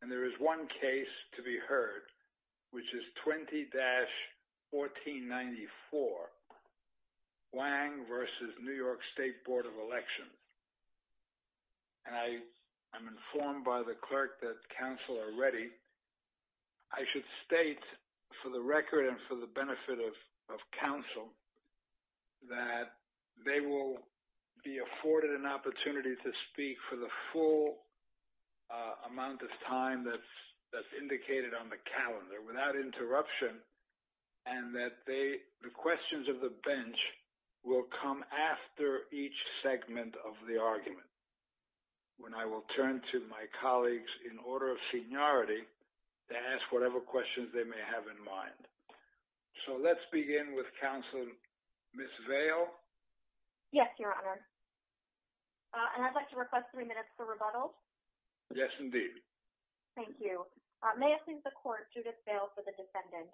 And there is one case to be heard, which is 20-1494, Wang v. New York State Board of Election. I am informed by the clerk that counsel are ready. I should state for the record and for the benefit of counsel that they will be afforded an opportunity to speak for the full amount of time that's indicated on the calendar, without interruption, and that the questions of the bench will come after each segment of the argument, when I will turn to my colleagues in order of seniority to ask whatever questions they may have in mind. So let's begin with counsel Ms. Vail. Yes, Your Honor. And I'd like to request three minutes for rebuttal. Yes, indeed. Thank you. May I please the court, Judith Vail for the defendant.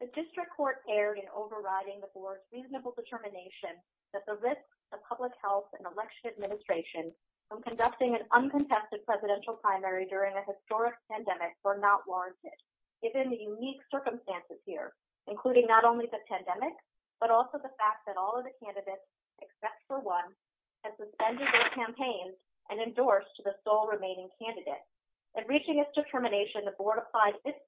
The district court erred in overriding the board's reasonable determination that the risks to public health and election administration from conducting an uncontested presidential primary during a historic pandemic were not warranted, given the unique circumstances here, including not only the pandemic, but also the fact that all of the candidates, except for one, had suspended their campaigns and endorsed the sole remaining candidate. In reaching this determination, the board applied its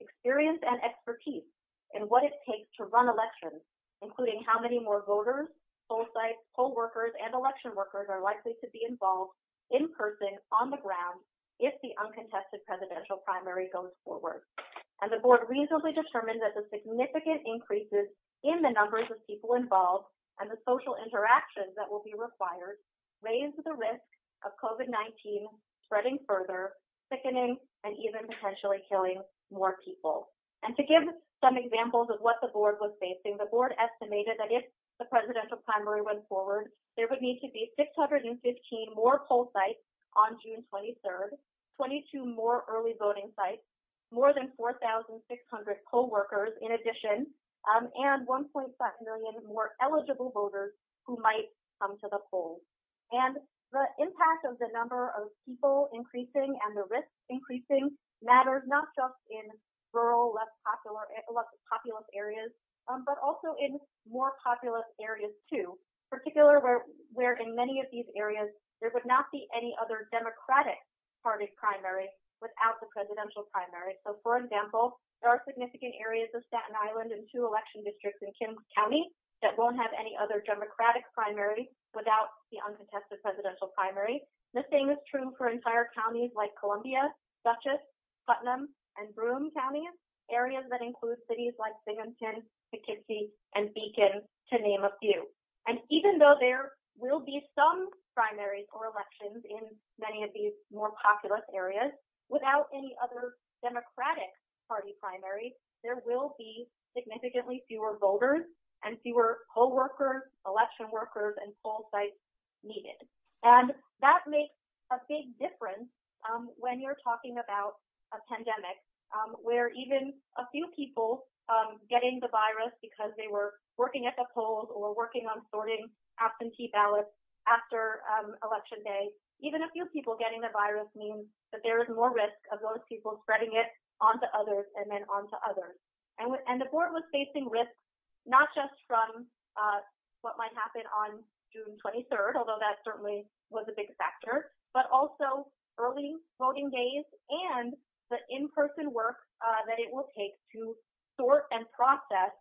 experience and expertise in what it takes to run elections, including how many more voters, poll sites, poll workers, and election workers are likely to be involved in person on the ground if the uncontested presidential primary goes forward. And the board reasonably determined that the and the social interactions that will be required raise the risk of COVID-19 spreading further, thickening, and even potentially killing more people. And to give some examples of what the board was facing, the board estimated that if the presidential primary went forward, there would need to be 615 more poll sites on June 23rd, 22 more early voting sites, more than 4,600 poll workers in addition, and 1.5 million more eligible voters who might come to the polls. And the impact of the number of people increasing and the risk increasing matters not just in rural, less populous areas, but also in more populous areas too, particularly where in many of these areas, there would not be any other Democratic party primary without the presidential primary. So, for example, there are significant areas of Staten Island and two election districts in Kings County that won't have any other Democratic primary without the uncontested presidential primary. The same is true for entire counties like Columbia, Dutchess, Putnam, and Broome counties, areas that include cities like Binghamton, Poughkeepsie, and Beacon, to name a few. And even though there will be some primaries or elections in many of these more populous areas, without any other Democratic party primaries, there will be significantly fewer voters and fewer poll workers, election workers, and poll sites needed. And that makes a big difference when you're talking about a pandemic, where even a few people getting the virus because they were working at the polls or working on sorting absentee ballots after election day, even a few people getting the virus means that there is more risk of those people spreading it onto others and then onto others. And the board was facing risk, not just from what might happen on June 23rd, although that certainly was a big factor, but also early voting days and the in-person work that it will take to sort and process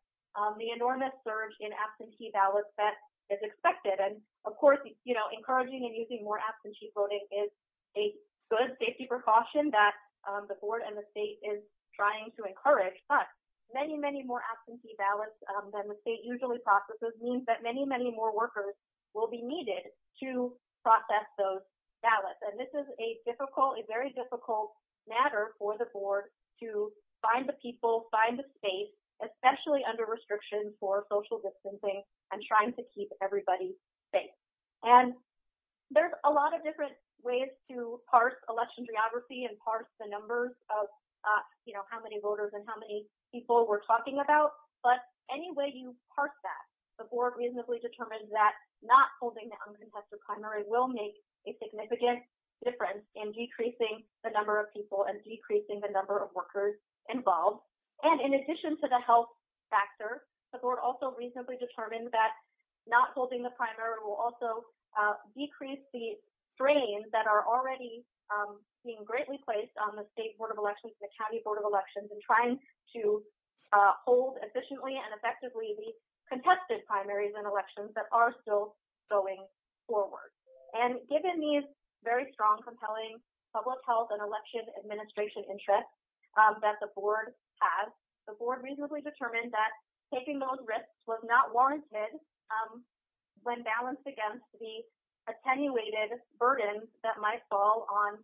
the enormous surge in absentee ballots that is expected. And of course, you know, encouraging and using more absentee voting is a good safety precaution that the board and the state is trying to encourage, but many, many more absentee ballots than the state usually processes means that many, many more workers will be needed to process those ballots. And this is a difficult, a very difficult matter for the board to find the people, find the space, especially under restrictions for social distancing and trying to keep everybody safe. And there's a lot of different ways to parse election geography and parse the numbers of, you know, how many voters and how many people we're talking about, but any way you parse that, the board reasonably determined that not holding uncontested primary will make a significant difference in decreasing the number of people and decreasing the number of workers involved. And in addition to the health factor, the board also reasonably determined that not holding the primary will also decrease the strains that are already being greatly placed on the state board of elections, the county board of elections, and trying to hold efficiently and effectively the contested primaries and elections that are still going forward. And given these very strong, compelling public health and election administration interests that the board has, the board reasonably determined that taking those risks was not warranted when balanced against the attenuated burdens that might fall on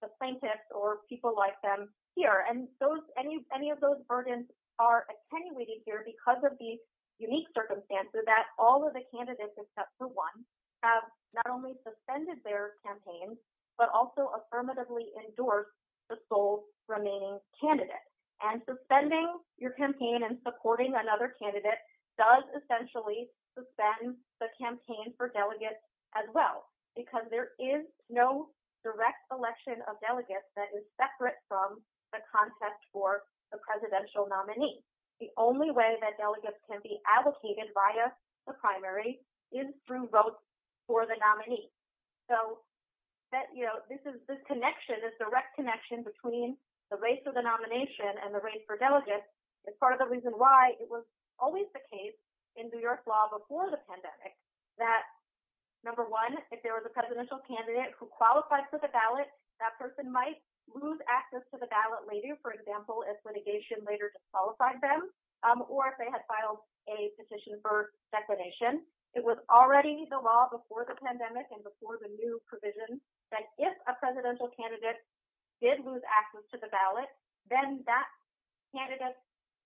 the plaintiffs or people like them here. And those, any of those burdens are attenuated here because of these unique circumstances that all of the candidates except for one have not only suspended their campaigns, but also affirmatively endorsed the sole remaining candidate. And suspending your campaign and supporting another candidate does essentially suspend the campaign for delegates as well, because there is no direct selection of delegates that is separate from the contest for the presidential nominee. The only way that delegates can be advocated via the primary is through votes for the nominee. So that, you know, this is this connection, this direct connection between the race of the nomination and the race for delegates is part of the reason why it was always the case in New York law before the pandemic that, number one, if there was a presidential candidate who qualified for the ballot, that person might lose access to the ballot later, for example, if litigation later disqualified them or if they had filed a petition for declaration. It was already the law before the pandemic and before the new provision that if a presidential candidate did lose access to the ballot, then that candidate's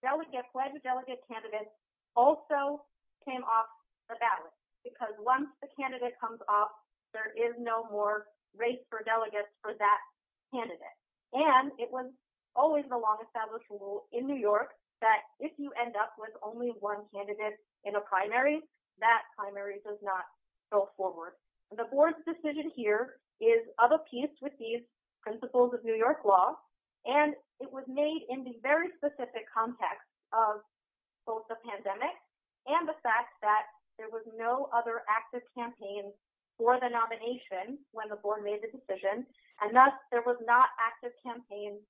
delegate, wedged delegate candidate also came off the ballot. Because once the candidate comes off, there is no more race for delegates for that candidate. And it was always the long established rule in New York that if you end up with only one candidate in a primary, that primary does not go forward. The board's decision here is of a piece with these principles of New York law. And it was made in the very specific context of both the pandemic and the for the nomination when the board made the decision. And thus, there was not active campaign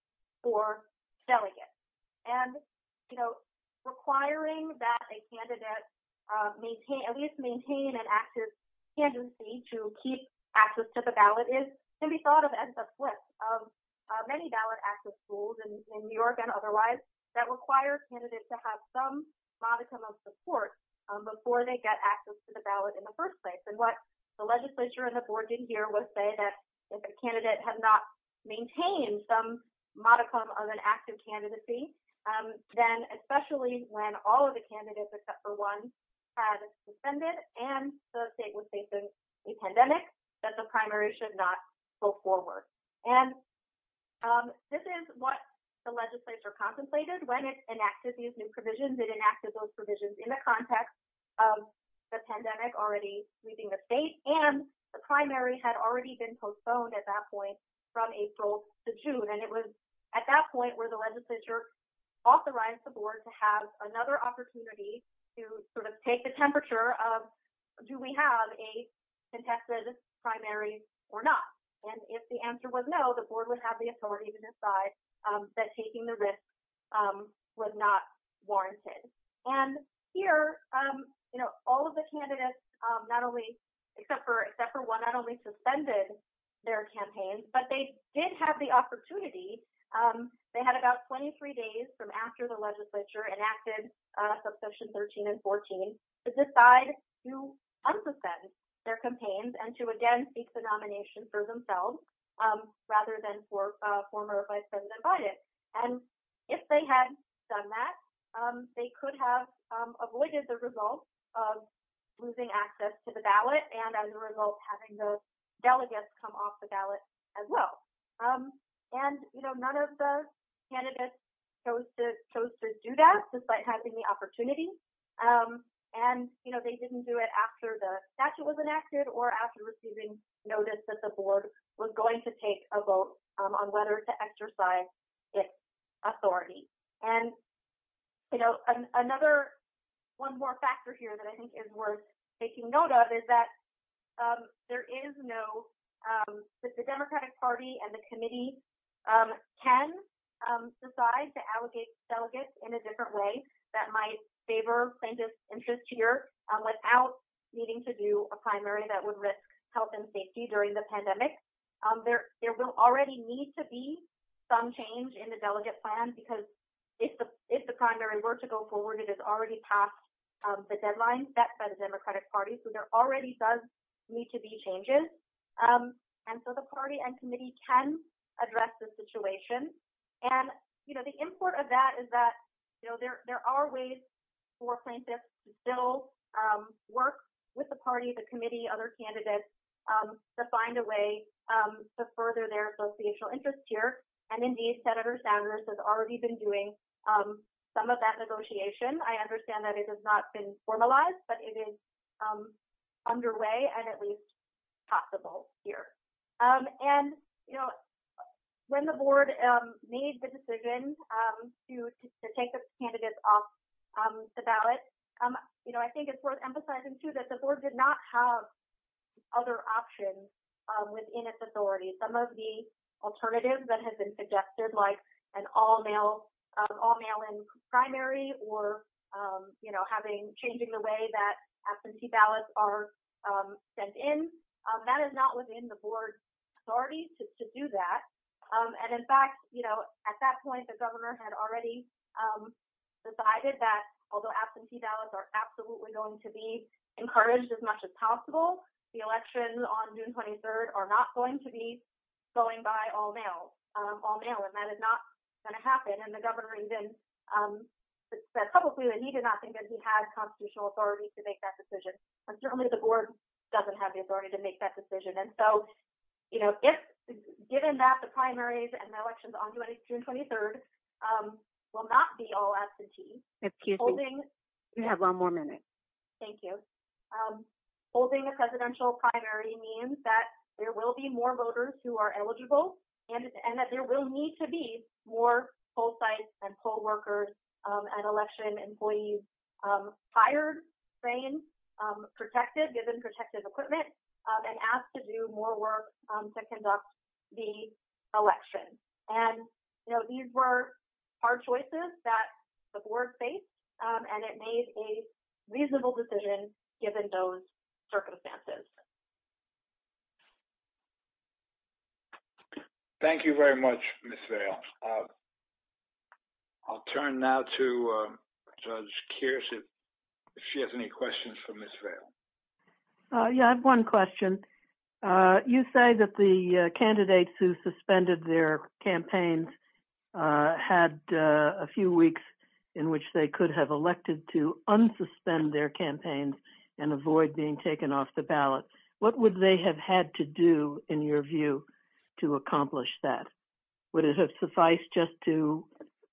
for delegates. And, you know, requiring that a candidate maintain, at least maintain an active tendency to keep access to the ballot is can be thought of as the flip of many ballot access rules in New York and otherwise that require candidates to have some modicum of support before they get access to the ballot in the first place. And what the legislature and the board did here was say that if a candidate had not maintained some modicum of an active candidacy, then especially when all of the candidates except for one had suspended and the state was facing a pandemic, that the primary should not go forward. And this is what the legislature contemplated when it enacted these new provisions. It enacted those provisions in the context of the pandemic already leaving the state and the primary had already been postponed at that point from April to June. And it was at that point where the legislature authorized the board to have another opportunity to sort of take the temperature of do we have a contested primary or not? And if the answer was no, the board would have the authority to decide that taking the risk was not warranted. And here, you know, all of the candidates not only except for one not only suspended their campaigns, but they did have the opportunity, they had about 23 days from after the legislature enacted subsection 13 and 14 to decide to unsuspend their campaigns and to again seek the nomination for themselves rather than for former Vice President Biden. And if they had done that, they could have avoided the result of losing access to the ballot and as a result, having the delegates come off the ballot as well. And, you know, none of the candidates chose to do that despite having the opportunity. And, you know, they didn't do it after the statute was noticed that the board was going to take a vote on whether to exercise its authority. And, you know, another one more factor here that I think is worth taking note of is that there is no the Democratic Party and the committee can decide to allocate delegates in a different way that might favor plaintiff's interest here without needing to do a primary that would risk health and safety during the pandemic. There will already need to be some change in the delegate plan because if the primary were to go forward, it is already past the deadline set by the Democratic Party. So there already does need to be changes. And so the party and committee can address the situation. And, you know, the import of that is there are ways for plaintiffs to still work with the party, the committee, other candidates to find a way to further their associational interest here. And indeed, Senator Sanders has already been doing some of that negotiation. I understand that it has not been formalized, but it is underway and at least possible here. And, you know, when the board made the decision to take the candidates off the ballot, you know, I think it's worth emphasizing, too, that the board did not have other options within its authority. Some of the alternatives that have been suggested like an all-mail-in primary or, you know, changing the way that absentee ballots are sent in, that is not within the board's authority to do that. And, in fact, you know, at that point, the governor had already decided that although absentee ballots are absolutely going to be encouraged as much as possible, the elections on June 23rd are not going to be going by all-mail. And that is not going to happen. And the governor said publicly that he did not think that he had constitutional authority to make that decision. And certainly the board doesn't have the authority to make that decision. And so, you know, given that the primaries and will not be all absentee, holding a presidential primary means that there will be more voters who are eligible and that there will need to be more poll sites and poll workers and election employees hired, trained, protected, given protective equipment, and asked to do more work to conduct the election. And, you know, these were hard choices that the board faced, and it made a reasonable decision given those circumstances. Thank you very much, Ms. Vail. I'll turn now to Judge Kearse if she has any questions for Ms. Vail. Yeah, I have one question. You say that the candidates who suspended their campaigns had a few weeks in which they could have elected to unsuspend their campaigns and avoid being taken off the ballot. What would they have had to do, in your view, to accomplish that? Would it have been sufficient just to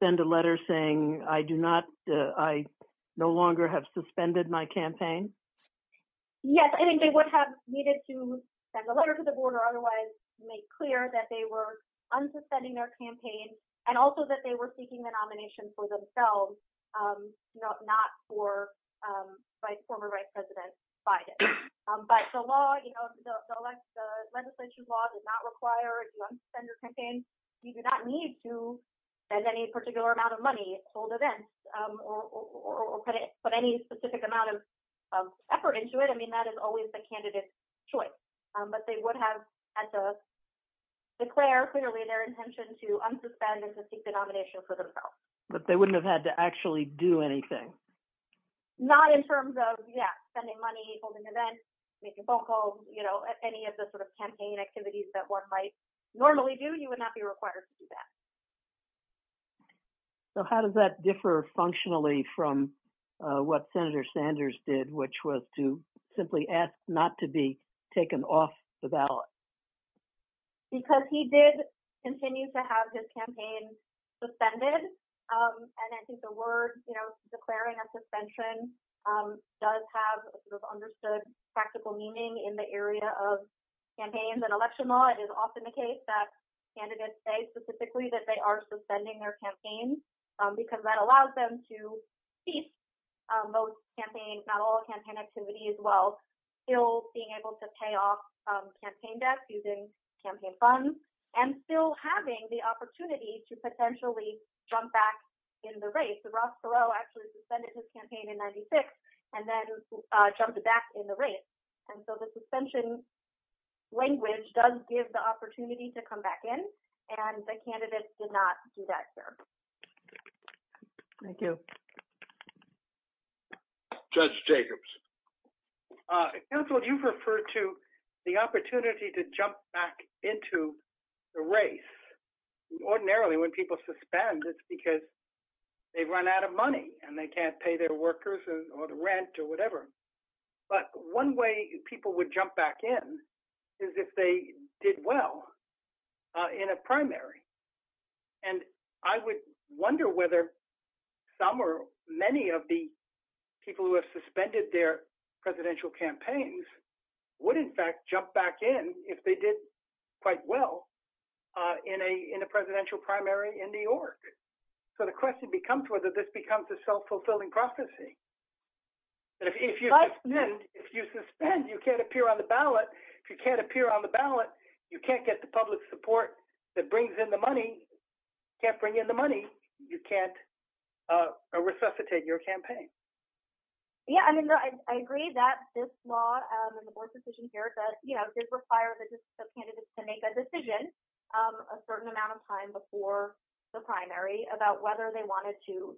send a letter saying, I do not, I no longer have suspended my campaign? Yes, I think they would have needed to send a letter to the board or otherwise make clear that they were unsuspending their campaign, and also that they were seeking the nomination for themselves, not for former Vice President Biden. But the law, you know, the legislation law does require an unsuspended campaign. You do not need to spend any particular amount of money, hold events, or put any specific amount of effort into it. I mean, that is always the candidate choice. But they would have had to declare clearly their intention to unsuspend and to seek the nomination for themselves. But they wouldn't have had to actually do anything? Not in terms of, yeah, spending money, holding events, making phone calls, you know, any of the sort of campaign activities that one might normally do, you would not be required to do that. So how does that differ functionally from what Senator Sanders did, which was to simply ask not to be taken off the ballot? Because he did continue to have his campaign suspended. And I think the word, you know, declaring a suspension does have understood practical meaning in the area of campaigns and election law. It is often the case that candidates say specifically that they are suspending their campaigns, because that allows them to keep most campaigns, not all campaign activities, while still being able to pay off campaign debt using campaign funds, and still having the opportunity to potentially jump back in the race. So Ross Perot actually suspended his campaign in 96, and then jumped back in the race. And so the suspension language does give the opportunity to come back in, and the candidates did not do that, sir. Thank you. Judge Jacobs. Counsel, you refer to the opportunity to jump back into the race. Ordinarily, when people suspend, it's because they run out of money, and they can't pay their workers or the rent or whatever. But one way people would jump back in is if they did well in a primary. And I would wonder whether some or many of the people who have suspended their presidential campaigns would in fact jump back in if they did quite well in a in a presidential primary in New York. So the question becomes whether this becomes self-fulfilling prophecy. If you suspend, you can't appear on the ballot. If you can't appear on the ballot, you can't get the public support that brings in the money, can't bring in the money, you can't resuscitate your campaign. Yeah, I mean, I agree that this law and the board's decision here that, you know, did require the candidates to make a decision a certain amount of time before the primary about whether they wanted to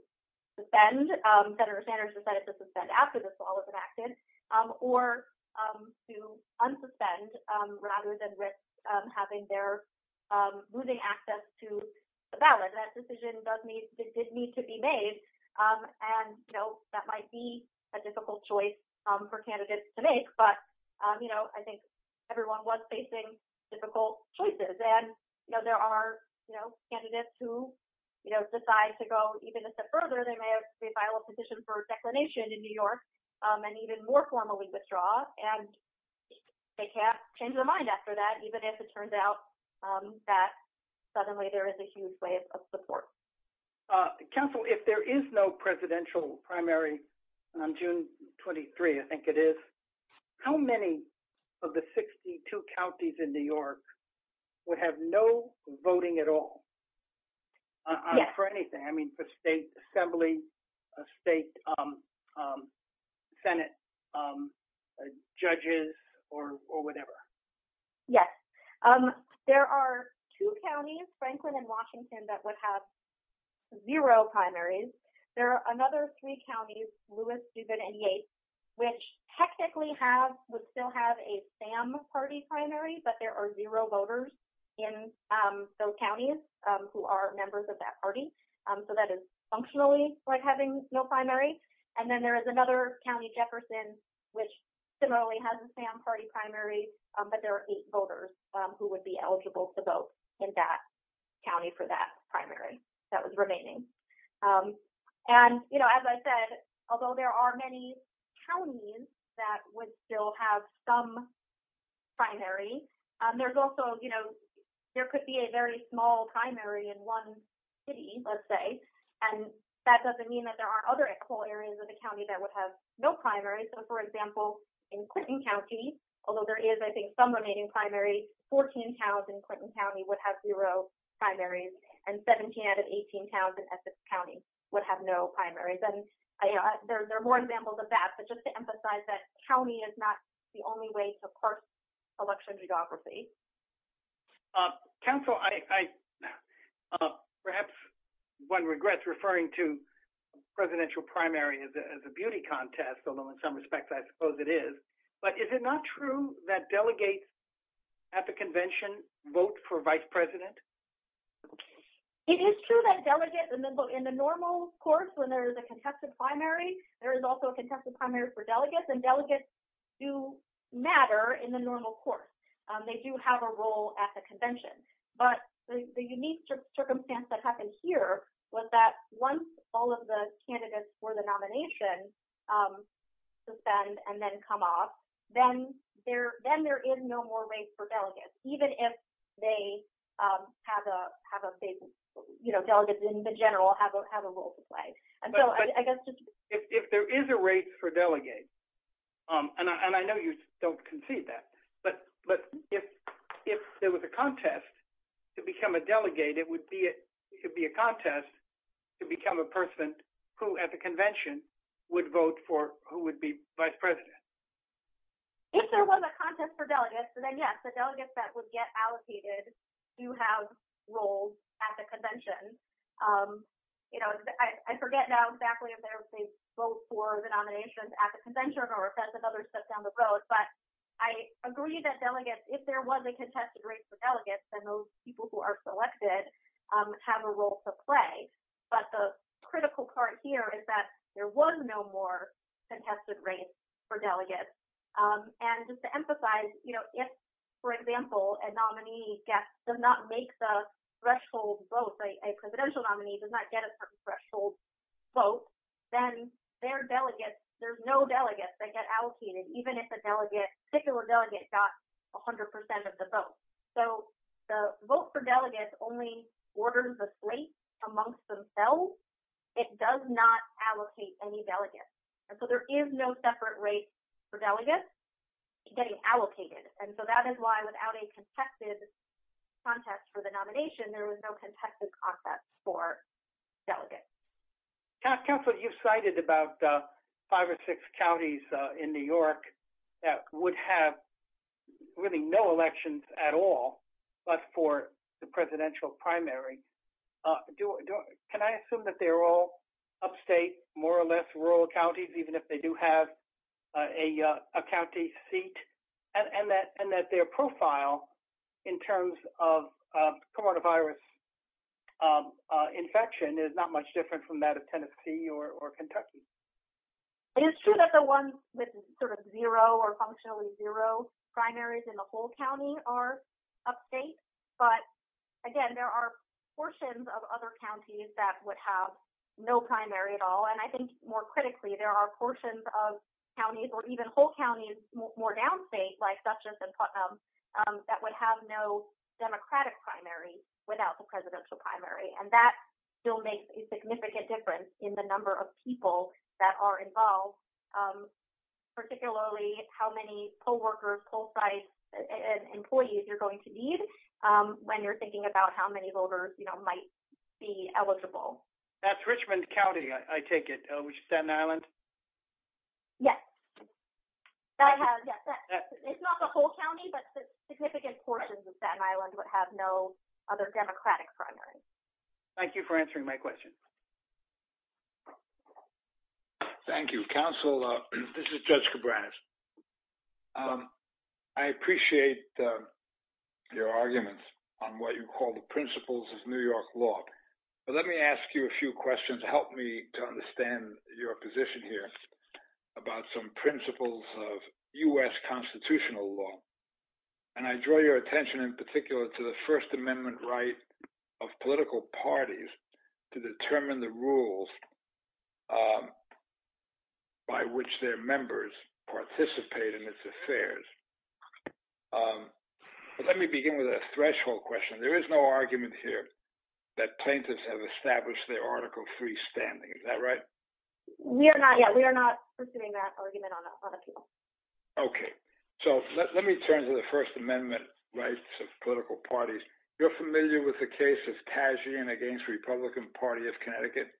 suspend. Senator Sanders decided to suspend after this law was enacted. Or to unsuspend rather than risk having their losing access to the ballot. That decision does need to be made. And, you know, that might be a difficult choice for candidates to make. But, you know, I think everyone was facing difficult choices. And, you know, there are, you know, candidates who, you know, decide to go even a step further. They may have to file a petition for declination in New York and even more formally withdraw. And they can't change their mind after that, even if it turns out that suddenly there is a huge wave of support. Counsel, if there is no presidential primary on June 23, I think it is, how many of the 62 counties in New York would have no voting at all for anything? I mean, for state assembly, state Senate judges, or whatever. Yes. There are two counties, Franklin and Washington, that would have zero primaries. There are another three counties, Lewis, Dubin, and Yates, which technically would still have a SAM party primary, but there are zero voters in those counties who are members of that party. So that is functionally like having no primary. And then there is another county, Jefferson, which similarly has a SAM party primary, but there are eight voters who would be eligible to vote in that county for that primary that was remaining. And, you know, as I said, although there are many counties that would still have some primary, there's also, you know, there could be a very small primary in one city, let's say, and that doesn't mean that there are other equal areas of the county that would have no primaries. So, for example, in Clinton County, although there is, I think, some remaining primary, 14 towns in Clinton County would have zero primaries, and 17 out of 18 towns in Essex County would have no primaries. And there are more examples of that, but just to emphasize that county is not the only way to course election geography. Council, perhaps one regrets referring to presidential primary as a beauty contest, although in some respects I suppose it is, but is it not true that delegates at the convention vote for vice president? It is true that delegates in the normal course when there is a contested primary, there is also a contested primary for delegates, and delegates do matter in the normal course. They do have a role at the convention, but the unique circumstance that happened here was that once all of the candidates for the nomination suspend and then come off, then there is no more race for delegates, even if they have a safe, you know, delegates in the general have a role to play. If there is a race for delegates, and I know you don't concede that, but if there was a contest to become a delegate, it would be a contest to become a person who at president. If there was a contest for delegates, then yes, the delegates that would get allocated do have roles at the convention. You know, I forget now exactly if there was a vote for the nominations at the convention or if that's another step down the road, but I agree that delegates, if there was a contested race for delegates, then those people who are selected have a role to play, but the critical part here is that there was no more contested race for delegates, and just to emphasize, you know, if, for example, a nominee does not make the threshold vote, a presidential nominee does not get a threshold vote, then their delegates, there's no delegates that get allocated, even if a delegate, a particular delegate got 100% of the vote, so the vote for delegates only orders the slate amongst themselves. It does not allocate any delegates, and so there is no separate race for delegates getting allocated, and so that is why without a contested contest for the nomination, there was no contested contest for delegates. Counselor, you've cited about five or six counties in New York that would have really no elections at all but for the presidential primary. Can I assume that they're upstate, more or less rural counties, even if they do have a county seat, and that their profile in terms of coronavirus infection is not much different from that of Tennessee or Kentucky? It is true that the ones with sort of zero or functionally zero primaries in the whole county are upstate, but again, there are portions of other counties that would have no primary at all, and I think more critically, there are portions of counties or even whole counties more downstate, like such as in Putnam, that would have no Democratic primary without the presidential primary, and that still makes a significant difference in the number of people that are you're going to need when you're thinking about how many voters might be eligible. That's Richmond County, I take it, which is Staten Island? Yes. It's not the whole county, but the significant portions of Staten Island would have no other Democratic primary. Thank you for answering my question. Thank you. Counselor, this is Judge Cabranes. I appreciate your arguments on what you call the principles of New York law, but let me ask you a few questions to help me to understand your position here about some principles of US constitutional law, and I draw your attention in particular to the First Amendment right of political parties to determine the right and the rules by which their members participate in its affairs. Let me begin with a threshold question. There is no argument here that plaintiffs have established their article freestanding. Is that right? We are not yet. We are not pursuing that argument on that level. Okay. Let me turn to the First Amendment rights of political parties. You're familiar with the case of Tassian against Republican Party of Connecticut?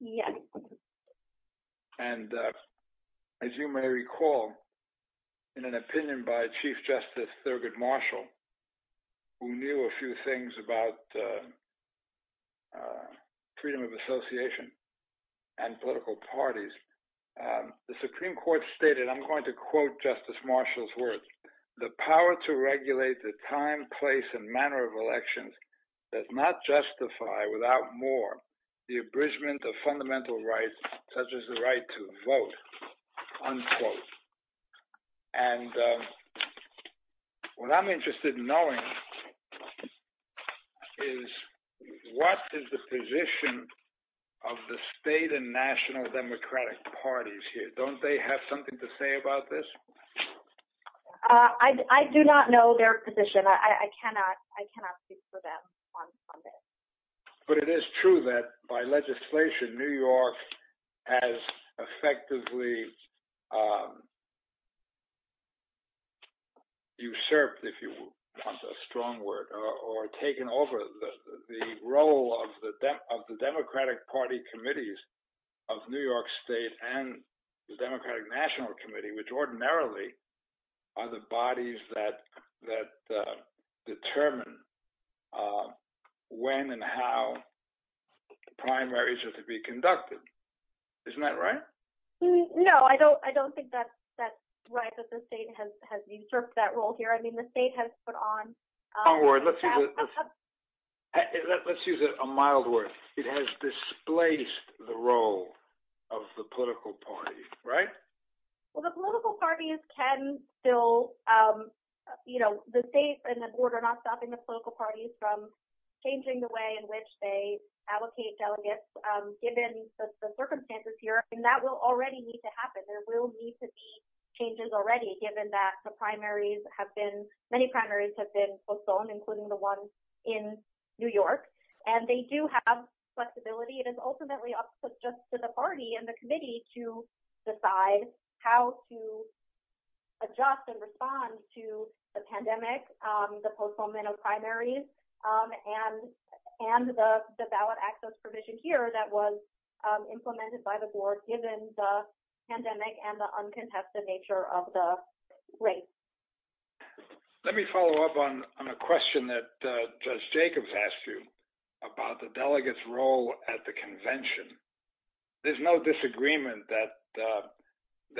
Yes. And as you may recall, in an opinion by Chief Justice Thurgood Marshall, who knew a few things about freedom of association and political parties, the Supreme Court stated, I'm going to quote Justice Marshall's words, the power to regulate the time, place, and manner of elections does not justify without more the abridgment of fundamental rights, such as the right to vote, unquote. And what I'm interested in knowing is what is the position of the state and national democratic parties here? Don't they have something to say about this? I do not know their position. I cannot speak for them on this. But it is true that by legislation, New York has effectively usurped, if you want a strong word, or taken over the role of the Democratic Party committees of New York State and the Democratic National Committee, which ordinarily are the bodies that determine when and how the primaries are to be conducted. Isn't that right? No, I don't think that's right, that the state has usurped that role here. I mean, the state has put on... Strong word. Let's use it a mild word. It has displaced the role of the political parties, right? Well, the political parties can still... The state and the board are not stopping the political parties from changing the way in which they allocate delegates, given the circumstances here. And that will already need to happen. There will need to be changes already, given that the primaries have been... Many primaries have been postponed, including the ones in New York. And they do have flexibility. It is ultimately up to the party and the committee to decide how to adjust and respond to the pandemic, the postponement of primaries, and the valid access provision here that was implemented by the board, given the pandemic and the uncontested nature of the race. Let me follow up on a question that Judge Jacobs asked you about the delegate's role at the convention. There's no disagreement that,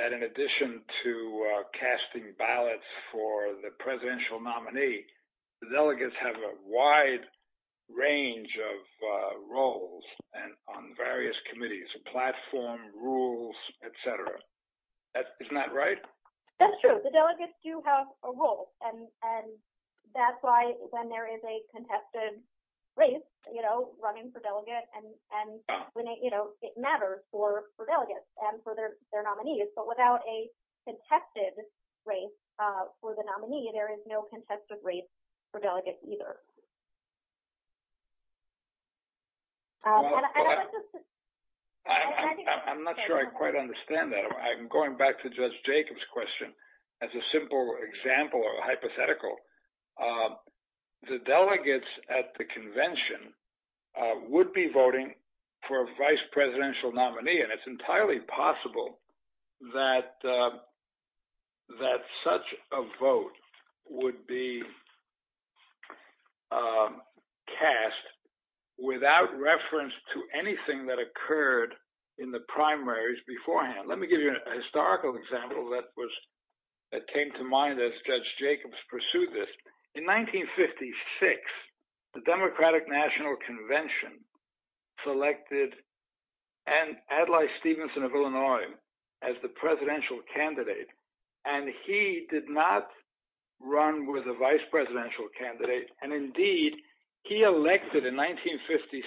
in addition to casting ballots for the presidential nominee, the delegates have a wide range of roles on various committees, platform rules, et cetera. Isn't that right? That's true. The delegates do have a role. And it matters for delegates and for their nominees. But without a contested race for the nominee, there is no contested race for delegates either. I'm not sure I quite understand that. I'm going back to Judge Jacobs' question as a simple example or hypothetical. The delegates at the convention would be voting for a vice presidential nominee. And it's entirely possible that such a vote would be cast without reference to anything that occurred in the primaries beforehand. Let me give you a historical example that came to mind as Judge Jacobs pursued this. In 1956, the Democratic National Convention selected Adlai Stevenson of Illinois as the presidential candidate. And he did not run with a vice presidential candidate. And indeed, he elected in 1956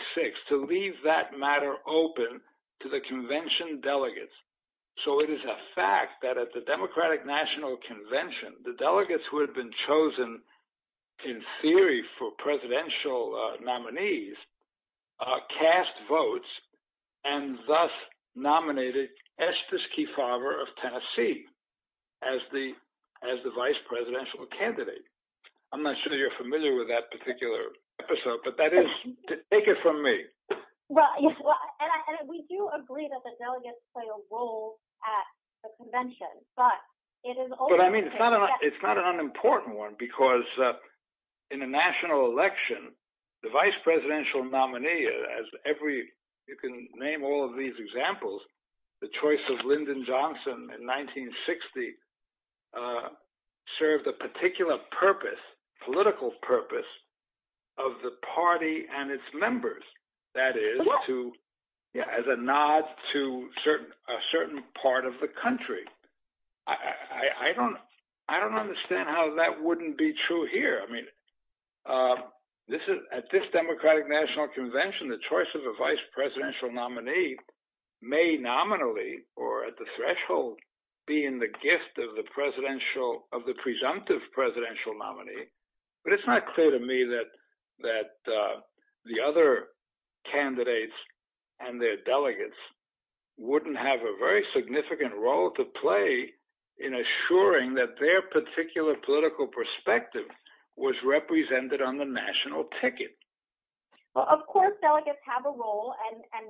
to leave that matter open to the convention delegates. So it is a fact that at the Democratic National Convention, the delegates who had been chosen in theory for presidential nominees cast votes and thus nominated Estes Kefauver of Tennessee as the vice presidential candidate. I'm not sure you're familiar with that particular episode, but take it from me. We do agree that the delegates play a role at the convention. It's not an unimportant one because in a national election, the vice presidential nominee, as you can name all of these examples, the choice of Lyndon Johnson in 1960 served a particular political purpose of the party and its members. That is, as a nod to a certain part of the country. I don't understand how that wouldn't be true here. At this Democratic National Convention, the choice of a vice presidential nominee may nominally, or at the threshold, be in the gift of the presumptive presidential nominee. But it's not clear to me that the other candidates and their delegates wouldn't have a very significant role to play in assuring that their particular political perspective was represented on the national ticket. Of course, delegates have a role and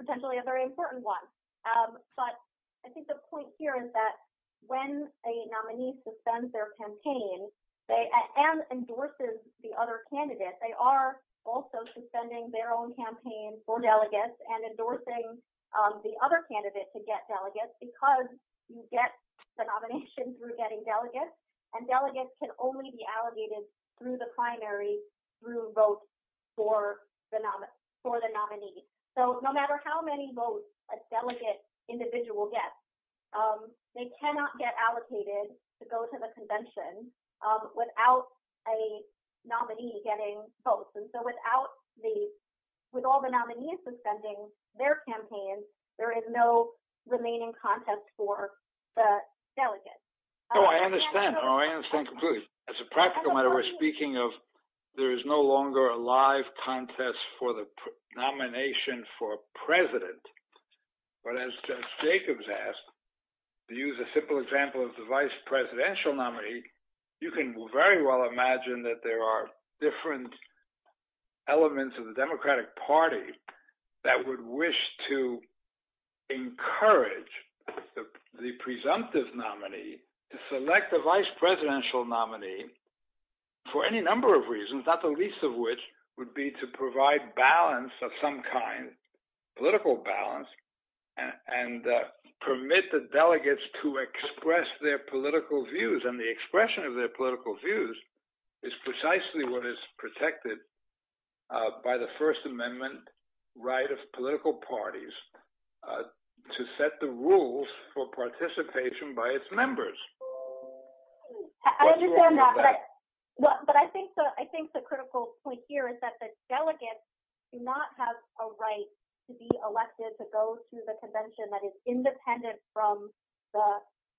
potentially a very important one. I think the point here is that when a nominee suspends their campaign and endorses the other candidate, they are also suspending their own campaign for delegates and endorsing the other candidate to get delegates because you get the nomination through getting delegates, and delegates can only be allocated through the primary through votes for the nominee. So no matter how many votes a delegate individual gets, they cannot get allocated to go to the convention without a nominee getting votes. And so with all the nominees suspending their campaign, there is no remaining contest for the delegates. No, I understand. I understand completely. It's a practical matter. We're speaking of there is no longer a live contest for the nomination for president. But as Jacobs asked, to use a simple example of the vice presidential nominee, you can very well imagine that there are different elements of the Democratic Party that would wish to encourage the presumptive nominee to select the vice presidential nominee for any number of reasons, not the least of which would be to provide balance of some kind, political balance, and permit the delegates to express their protected by the First Amendment right of political parties to set the rules for participation by its members. I understand that. But I think the critical point here is that the delegates do not have a right to be elected to go to the convention that is independent from the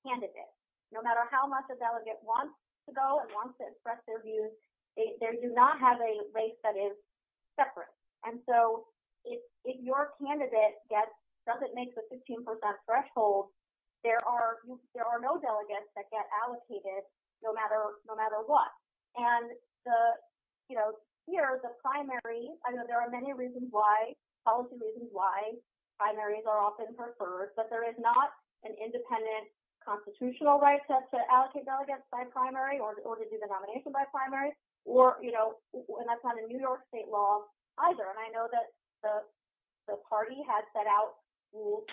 candidate. No matter how much a delegate wants to go and wants to express their views, they do not have a right that is separate. And so if your candidate doesn't make the 15% threshold, there are no delegates that get allocated no matter what. And here, the primary, I know there are many reasons why, policy reasons why, primaries are often preferred, but there is an independent constitutional right to allocate delegates by primary or to do the nomination by primary. And that's not a New York state law either. And I know that the party has set out rules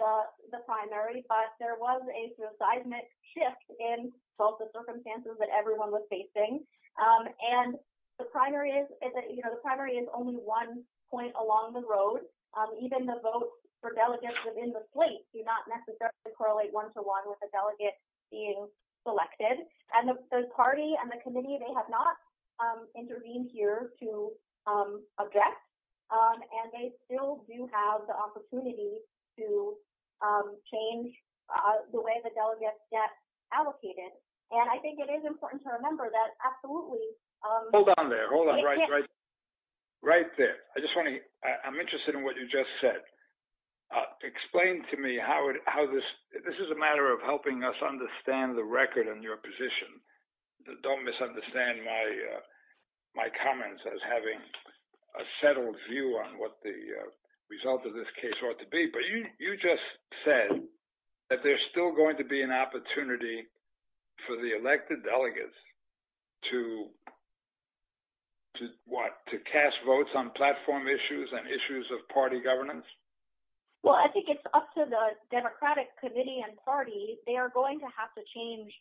for the primary, but there was a seismic shift in the circumstances that everyone was facing. And the primary is only one point along the road. Even the vote for delegates within the party does not necessarily correlate one-to-one with the delegate being selected. And the party and the committee, they have not intervened here to object. And they still do have the opportunity to change the way the delegates get allocated. And I think it is important to remember that absolutely... Hold on there. Hold on right there. I'm interested in what you just said. Explain to me how this... This is a matter of helping us understand the record in your position. Don't misunderstand my comments as having a settled view on what the result of this case ought to be. But you just said that there's still going to be an opportunity for the elected government. Well, I think it's up to the Democratic committee and party. They are going to have to change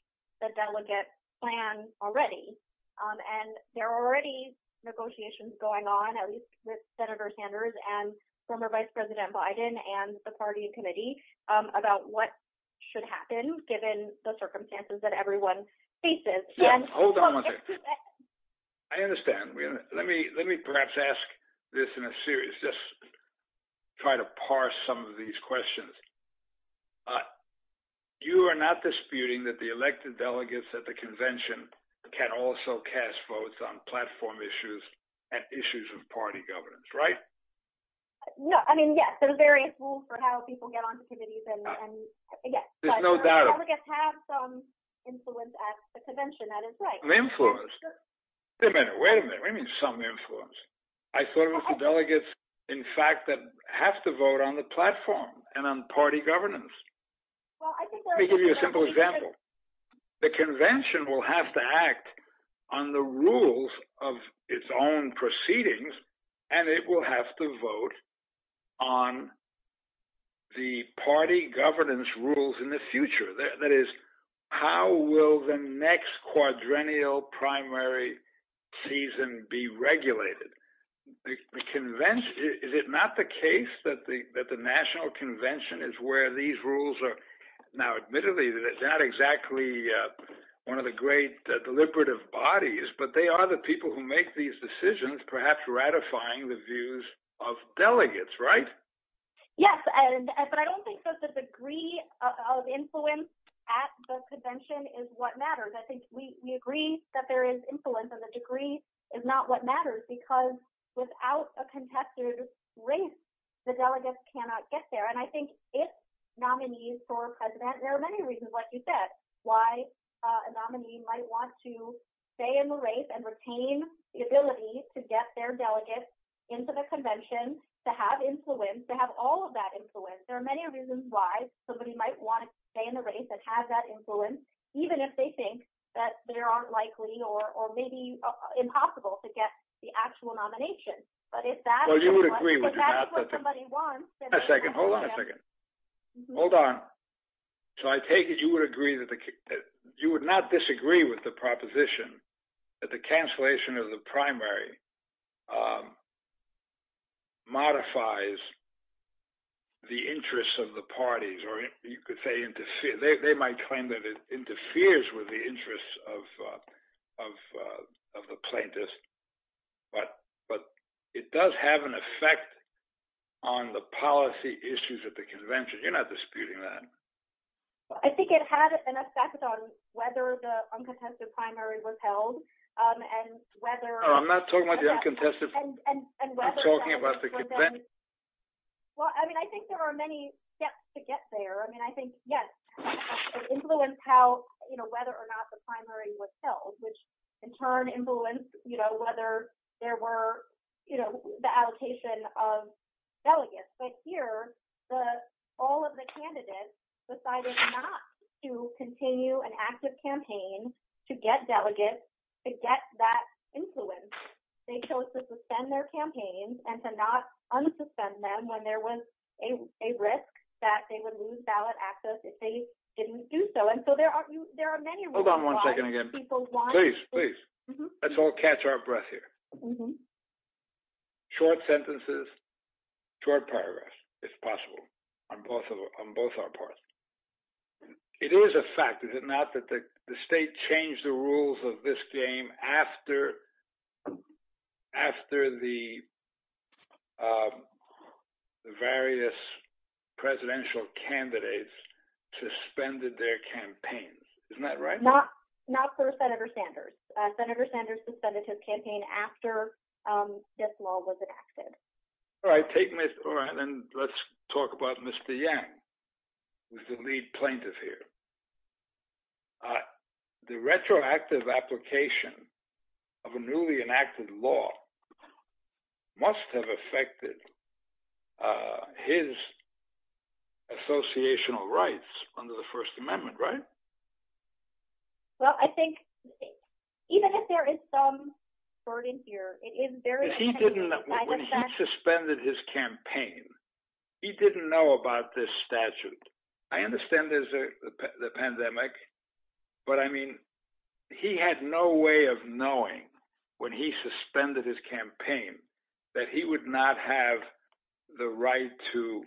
the delegate plan already. And there are already negotiations going on, at least with Senator Sanders and former Vice President Biden and the party and committee about what should happen given the circumstances that everyone faces. Hold on a second. I understand. Let me perhaps ask this in a series. Just try to parse some of these questions. You are not disputing that the elected delegates at the convention can also cast votes on platform issues and issues of party governance, right? No. I mean, yes. They're very cool for how people get onto committees. Yes. There's no doubt. Delegates have some influence at the convention. That is right. Influence? Wait a minute. What do you mean some influence? I thought it was the delegates, in fact, that have to vote on the platform and on party governance. Let me give you a simple example. The convention will have to act on the rules of its own proceedings and it will have to vote on the party governance rules in the future. That is, how will the next quadrennial primary season be regulated? Is it not the case that the national convention is where these rules are? Now, admittedly, it's not exactly one of the great deliberative bodies, but they are the people who make these decisions, perhaps ratifying the views of delegates, right? Yes, but I don't think that the degree of influence at the convention is what matters. I think we agree that there is influence and the degree is not what matters because without a contested race, the delegates cannot get there. I think if nominees for president, there are many reasons why a nominee might want to stay in the race and retain the ability to get their delegates into the convention to have influence, to have all of that influence. There are many reasons why somebody might want to stay in the race and have that influence, even if they think that they aren't likely or maybe impossible to get the actual nomination. But if that's what somebody wants... Hold on a second. Hold on. So I take it you would not disagree with the proposition that the cancellation of the primary modifies the interests of the parties, or you could say they might claim that it interferes with the interests of the plaintiffs, but it does have an effect on the policy issues at the convention. You're not disputing that? I think it had an effect on whether the uncontested primary was held and whether... No, I'm not talking about the uncontested. I'm talking about the convention. Well, I mean, I think there are many steps to get there. I mean, I think, yes, it influenced how, whether or not the primary was held, which in turn influenced whether there were the allocation of delegates. But here, all of the candidates decided not to continue an active campaign to get delegates, to get that influence. They chose to suspend their campaigns and to not unsuspend them when there was a risk that they would lose ballot access if they didn't do so. And so there are many reasons why... Hold on one second again. Please, please. Let's all catch our breath here. Short sentences, short paragraphs, if possible, on both our parts. It is a fact, is it not, that the state changed the rules of this game after the various presidential candidates suspended their campaigns. Isn't that right? Not for Senator Sanders. Senator Sanders suspended his campaign after this law was enacted. All right. Let's talk about Mr. Yang, who's the lead plaintiff here. The retroactive application of a newly enacted law must have affected his associational rights under the First Amendment, right? Well, I think even if there is some burden here... When he suspended his campaign, he didn't know about this statute. I understand there's the pandemic, but I mean, he had no way of knowing when he suspended his campaign that he would not have the right to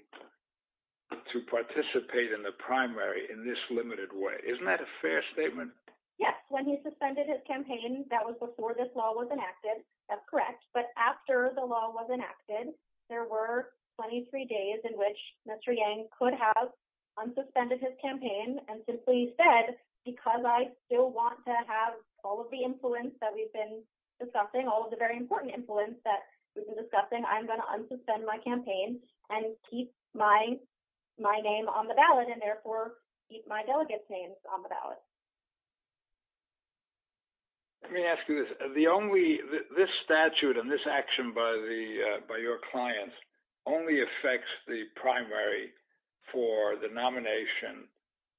participate in the primary in this limited way. Isn't that a fair statement? Yes. When he suspended his campaign, that was before this law was enacted. That's correct. But after the law was enacted, there were 23 days in which Mr. Yang could have unsuspended his campaign and simply said, because I still want to have all of the influence that we've been discussing, all of the very important influence that we've been discussing, I'm going to unsuspend my campaign and keep my name on the ballot and therefore keep my delegates' names on the ballot. Let me ask you this. This statute and this action by your clients only affects the primary for the nomination,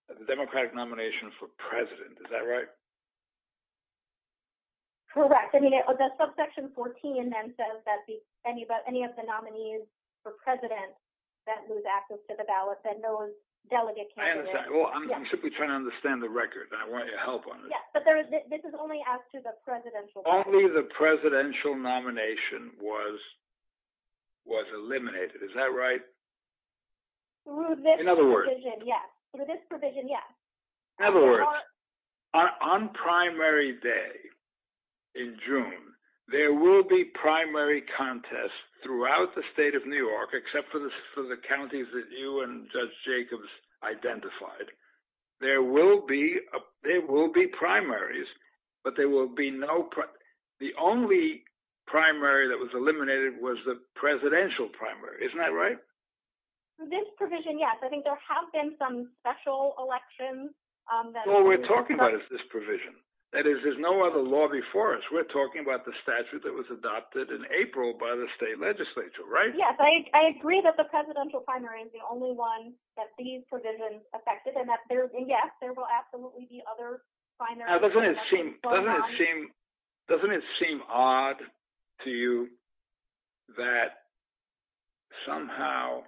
the Democratic nomination for president. Is that right? Correct. I mean, the subsection 14 then says that any of the nominees for president that lose access to the ballot, that no one's delegate can... I understand. Well, I'm simply trying to understand the record and I want your help on this. Yes, but this is only after the presidential... Only the presidential nomination was eliminated. Is that right? Through this provision, yes. In other words... Through this provision, yes. In other words, on primary day in June, there will be primary contests throughout the state of New York, except for the counties that you and Judge Jacobs identified. There will be primaries, but there will be no... The only primary that was eliminated was the presidential primary. Isn't that right? Through this provision, yes. I think there have been some special elections that... What we're talking about is this provision. That is, there's no other law before us. We're talking about the statute that was adopted in April by the state legislature, right? Yes. I agree that the presidential primary is the only one that these provisions affected, and yes, there will absolutely be other primaries. Doesn't it seem odd to you that somehow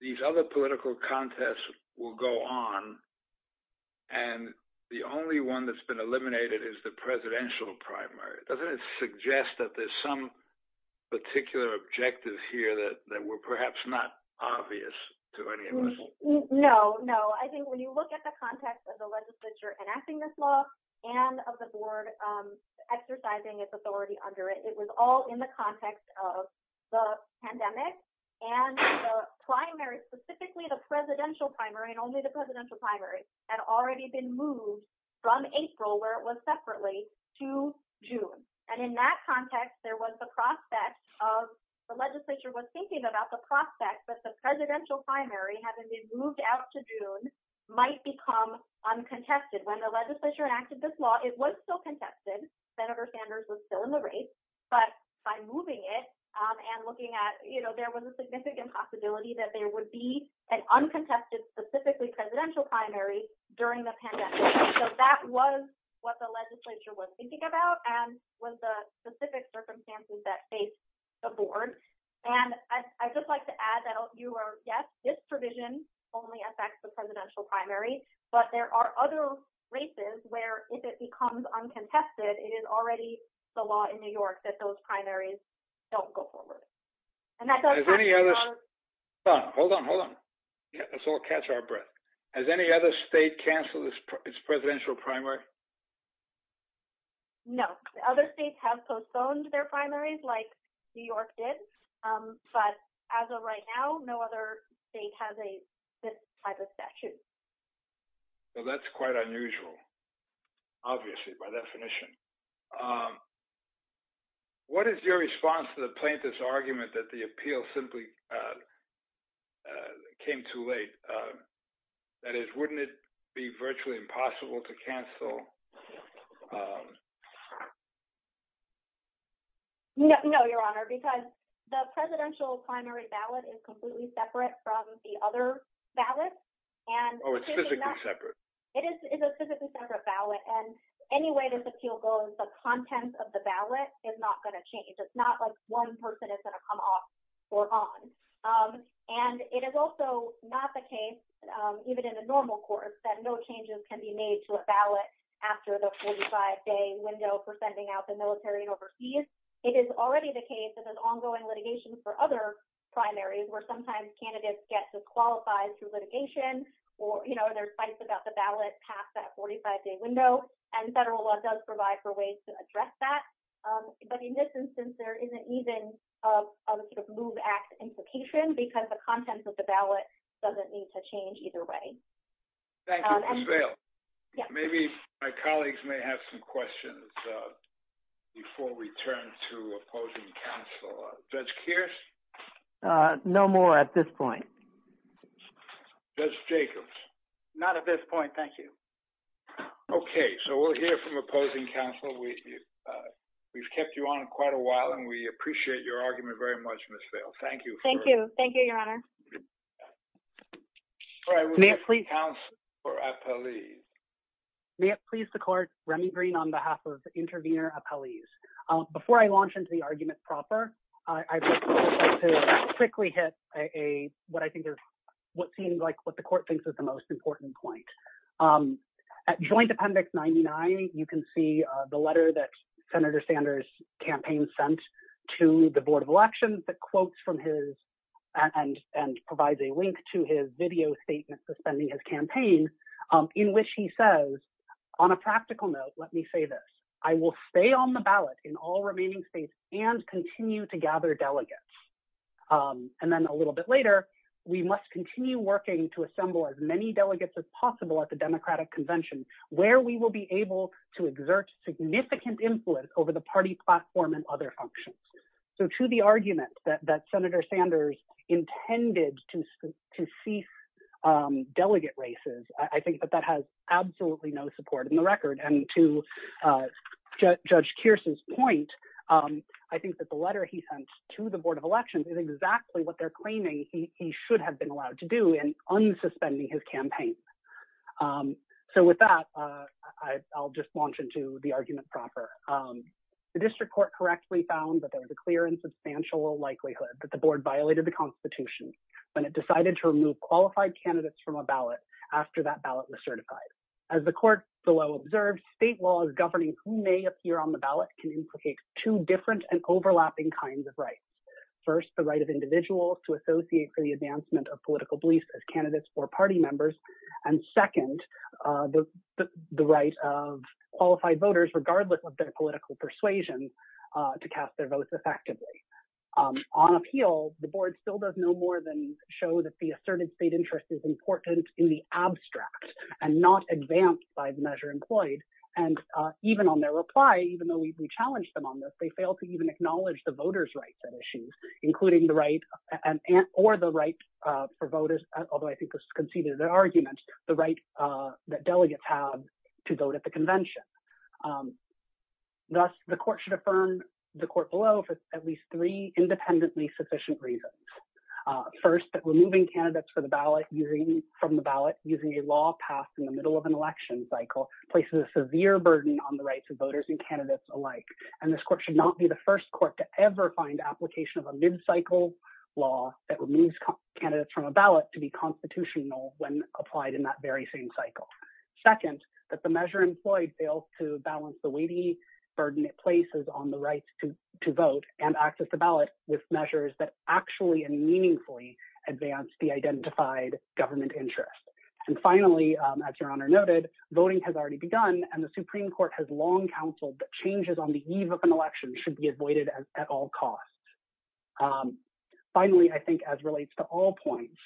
these other political contests will go on and the only one that's been eliminated is the presidential primary? Doesn't it suggest that there's some particular objective here that were perhaps not obvious to any of us? No, no. I think when you look at the context of the legislature enacting this law and of the board exercising its authority under it, it was all in the context of the pandemic and the primary, specifically the presidential primary, and only the presidential primary, had already been moved from April, where it was separately, to June. In that context, there was the prospect of... The legislature was thinking about the prospect that the presidential primary, having been moved out to June, might become uncontested. When the legislature enacted this law, it was still contested. Senator Sanders was still in the race, but by moving it and looking at... There was a significant possibility that there would be an uncontested, specifically presidential primary during the pandemic. That was what the legislature was thinking about and was the specific circumstances that faced the board. I'd just like to add that, yes, this provision only affects the presidential primary, but there are other races where, if it becomes uncontested, it is already the law in New York that those primaries don't go forward. Hold on, hold on. Let's all catch our breath. Has any other state canceled its presidential primary? No. Other states have postponed their primaries, like New York did, but as of right now, no other state has a statute. That's quite unusual, obviously, by definition. What is your response to the plaintiff's argument that the appeal simply came too late? That is, wouldn't it be virtually impossible to cancel? No, Your Honor, because the presidential primary ballot is completely separate from the other ballot. Oh, it's physically separate? It is a physically separate ballot, and any way this appeal goes, the content of the ballot is not going to change. It's not like one person is going to come off or on. It is also not the case, even in the normal courts, that no changes can be made to a ballot after the 45-day window for sending out the military overseas. It is already the case that there's ongoing litigation for other primaries, where sometimes candidates get disqualified through litigation, or there's fights about the ballot past that 45-day window, and federal law does provide for ways to address that. In this instance, there isn't even a sort of Move Act implication, because the content of the ballot doesn't need to change either way. Thank you, Ms. Vail. Maybe my colleagues may have some questions before we turn to opposing counsel. Judge Kearse? No more at this point. Judge Jacobs? Not at this point, thank you. Okay, so we'll hear from opposing counsel. We've kept you on quite a while, and we appreciate your argument very much, Ms. Vail. Thank you. Thank you. Thank you, Your Honor. May it please the Court, Remy Green on behalf of intervener appellees. Before I launch into the argument proper, I'd like to quickly hit what seems like what the Court thinks is the most important point. At Joint Appendix 99, you can see the letter that Senator Sanders' campaign sent to the Board of Elections that quotes from his, and provides a link to his video statement suspending his campaign, in which he says, on a practical note, let me say this. I will stay on the ballot in all remaining states and continue to gather delegates. And then a little bit later, we must continue working to assemble as many delegates as possible at the Democratic Convention, where we will be able to exert significant influence over the party platform and other functions. So to the argument that Senator Sanders intended to cease delegate races, I think that that has absolutely no support in the record. And to Judge Kearson's point, I think that the letter he sent to the Board of Elections is exactly what they're claiming he should have been allowed to do in unsuspending his campaign. So with that, I'll just launch into the argument proper. The District Court correctly found that there was a clear and substantial likelihood that the Board violated the Constitution when it decided to remove qualified candidates from a ballot after that ballot was certified. As the Court below observed, state laws governing who may appear on the ballot can implicate two different and for the advancement of political beliefs as candidates or party members. And second, the right of qualified voters, regardless of their political persuasion, to cast their votes effectively. On appeal, the Board still does no more than show that the asserted state interest is important in the abstract and not advanced by the measure employed. And even on their reply, even though we've challenged them on this, they fail to even acknowledge the voters' rights at the right for voters, although I think this conceded their arguments, the right that delegates have to vote at the convention. Thus, the Court should affirm the Court below for at least three independently sufficient reasons. First, that removing candidates from the ballot using a law passed in the middle of an election cycle places a severe burden on the rights of voters and candidates alike. And this Court should not be the first Court to ever find application of a mid-cycle law that removes candidates from a ballot to be constitutional when applied in that very same cycle. Second, that the measure employed fails to balance the weighty burden it places on the right to vote and access to ballot with measures that actually and meaningfully advance the identified government interest. And finally, as Your Honor noted, voting has already begun, and the Supreme Court has long counseled that changes on the eve of an election should be finalized. Finally, I think as relates to all points,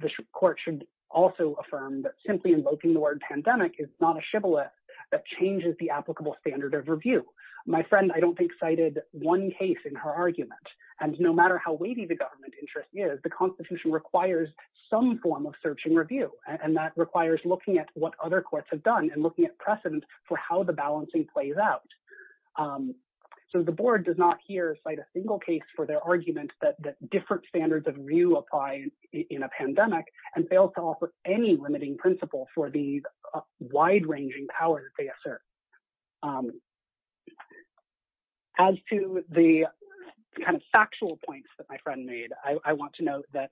the Court should also affirm that simply invoking the word pandemic is not a shibboleth that changes the applicable standard of review. My friend, I don't think, cited one case in her argument, and no matter how weighty the government interest is, the Constitution requires some form of search and review, and that requires looking at what other courts have done and looking at precedent for how the balancing plays out. So the Board does not here cite a single case for their argument that different standards of review apply in a pandemic, and fails to offer any limiting principle for these wide-ranging powers they assert. As to the kind of factual points that my friend made, I want to note that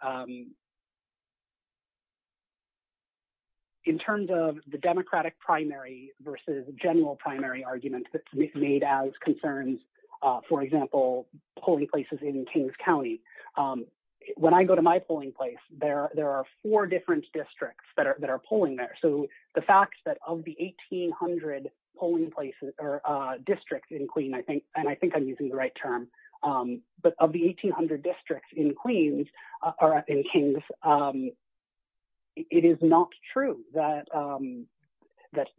in terms of the Democratic primary versus general primary argument that's made as concerns, for example, polling places in Kings County, when I go to my polling place, there are four different districts that are polling there. So the fact that of the 1,800 polling places or districts in Queens, and I think I'm using the right term, but of the 1,800 districts in Queens, it is not true that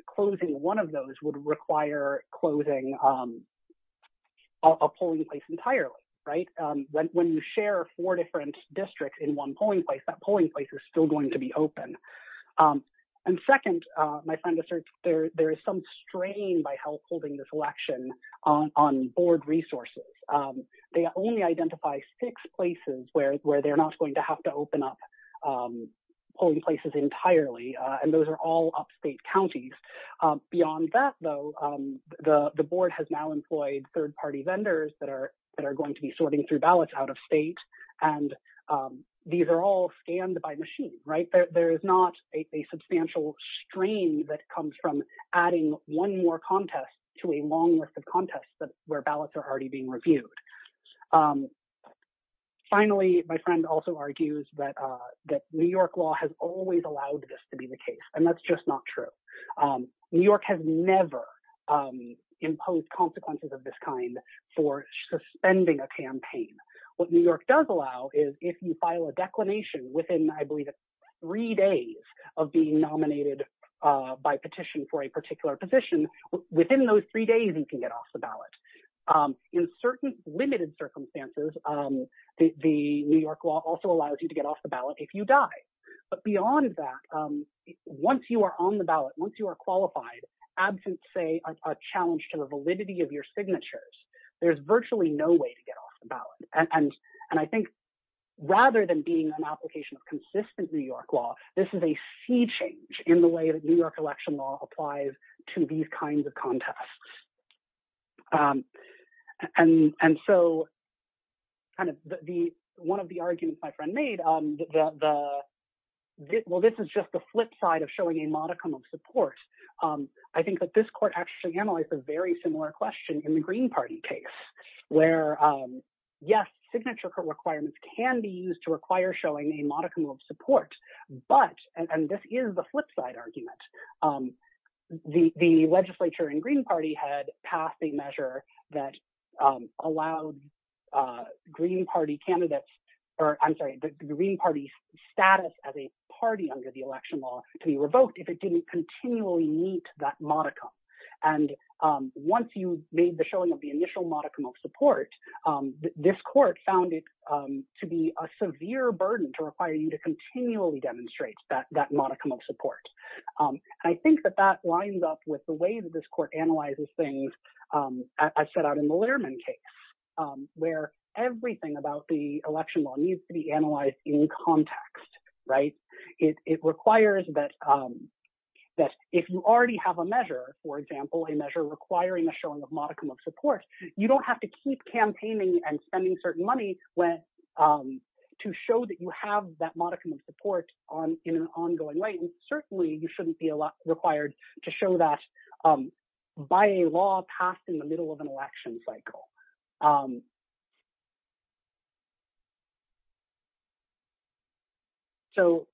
closing one of those would require closing a polling place entirely, right? When you share four different districts in one polling place, that polling place is still going to be open. And second, my friend asserts there is some strain by health holding this not going to have to open up polling places entirely, and those are all upstate counties. Beyond that, though, the Board has now employed third-party vendors that are going to be sorting through ballots out of state, and these are all scanned by machine, right? There is not a substantial strain that comes from adding one more contest to a long list of contests where ballots are already being reviewed. Finally, my friend also argues that New York law has always allowed this to be the case, and that's just not true. New York has never imposed consequences of this kind for suspending a campaign. What New York does allow is if you file a declination within, I believe, three days of being nominated by petition for a particular position, within those three days, you can get off the ballot. In certain limited circumstances, the New York law also allows you to get off the ballot if you die. But beyond that, once you are on the ballot, once you are qualified, absent, say, a challenge to the validity of your signatures, there's virtually no way to get off the ballot. And I think rather than being an application of consistent New York law, this is a sea change in the way that New York election law applies to these kinds of contests. And so one of the arguments my friend made, well, this is just the flip side of showing a modicum of support. I think that this court actually analyzed a very similar question in the Green Party case, where, yes, signature requirements can be used to require showing a modicum of support, but, and this is the flip argument. The legislature in Green Party had passed a measure that allowed Green Party candidates, or I'm sorry, the Green Party status as a party under the election law to be revoked if it didn't continually meet that modicum. And once you made the showing of the initial modicum of support, this court found it to be a severe burden to require you to continually demonstrate that modicum of support. I think that that lines up with the way that this court analyzes things, as set out in the Lehrman case, where everything about the election law needs to be analyzed in context, right? It requires that if you already have a measure, for example, a measure requiring a showing of modicum of support, you don't have to keep campaigning and spending certain money when, to show that you have that modicum of support on, in an ongoing way. And certainly you shouldn't be required to show that by a law passed in the middle of an election cycle. So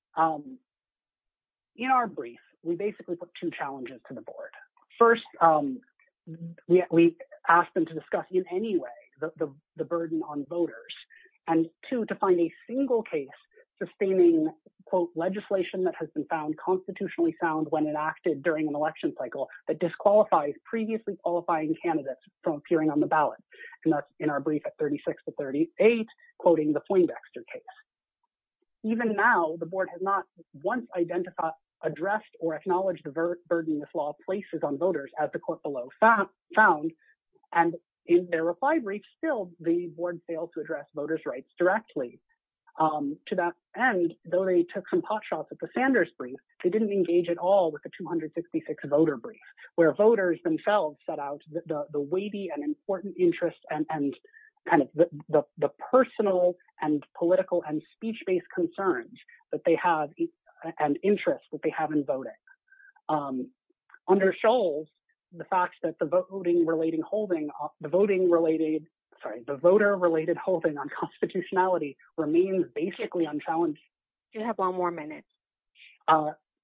in our brief, we basically put two challenges to the board. First, we asked them to discuss in any way the burden on voters. And two, to find a single case sustaining, quote, legislation that has been found constitutionally sound when enacted during an election cycle that disqualifies previously qualifying candidates from appearing on the ballot. And that's in our brief at 36 to 38, quoting the Flindexter case. Even now, the board has not once identified, addressed, or acknowledged the burden this law places on voters, as the court found. And in their reply brief, still, the board failed to address voters' rights directly. To that end, though they took some pot shots at the Sanders brief, they didn't engage at all with the 266 voter brief, where voters themselves set out the weighty and important interests and kind of the personal and political and speech-based concerns that they have and interests that they have. The fact that the voter-related holding on constitutionality remains basically unchallenged,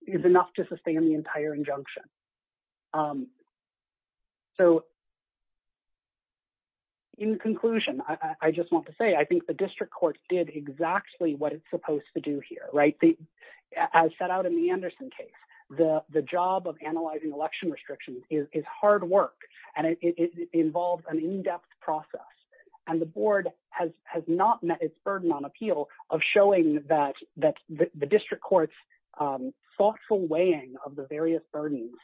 is enough to sustain the entire injunction. So in conclusion, I just want to say, I think the district court did exactly what it's supposed to do here. As set out in the Anderson case, the job of analyzing election restrictions is hard work, and it involves an in-depth process. And the board has not met its burden on appeal of showing that the district court's thoughtful weighing of the various burdens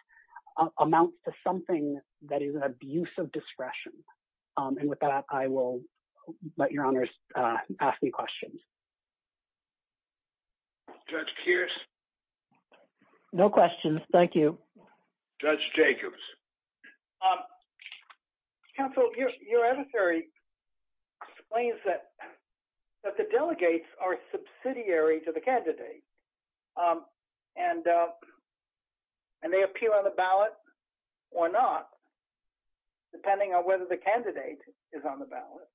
amounts to something that is an abuse of discretion. And with that, I will let your honors ask me questions. Judge Keirs? No questions, thank you. Judge Jacobs? Counsel, your emissary explains that the delegates are subsidiary to the candidate, and they appeal on the ballot or not, depending on whether the candidate is on the ballot,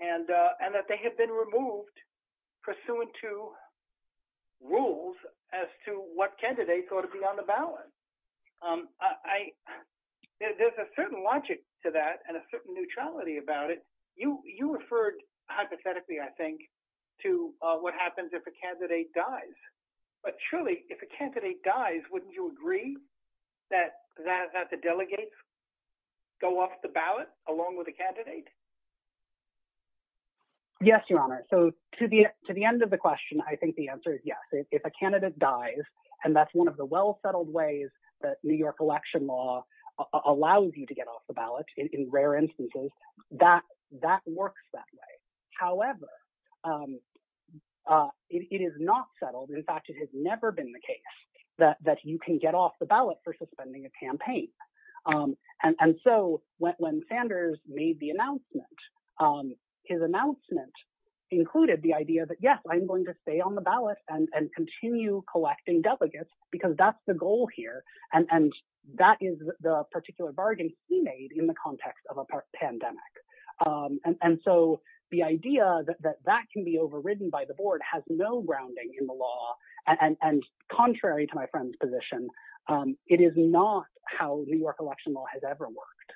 and that they had been removed pursuant to rules as to what candidates ought to be on the ballot. There's a certain logic to that and a certain neutrality about it. You referred hypothetically, I think, to what happens if a candidate dies. But surely, if a candidate dies, wouldn't you agree that the delegates go off the ballot along with the candidate? Yes, your honor. So to the end of the question, I think the answer is yes. If a candidate dies, and that's one of the well-settled ways that New York election law allows you to get off the ballot, in rare instances, that works that way. However, it is not settled. In fact, it has never been the case that you can get off the ballot for suspending a campaign. And so, when Sanders made the announcement, his announcement included the idea that, yes, I'm going to stay on the ballot and continue collecting delegates, because that's the goal here. And that is the particular bargain he made in the context of a pandemic. And so, the idea that that can be overridden by the board has no grounding in the law. And contrary to my friend's position, it is not how New York election law has ever worked.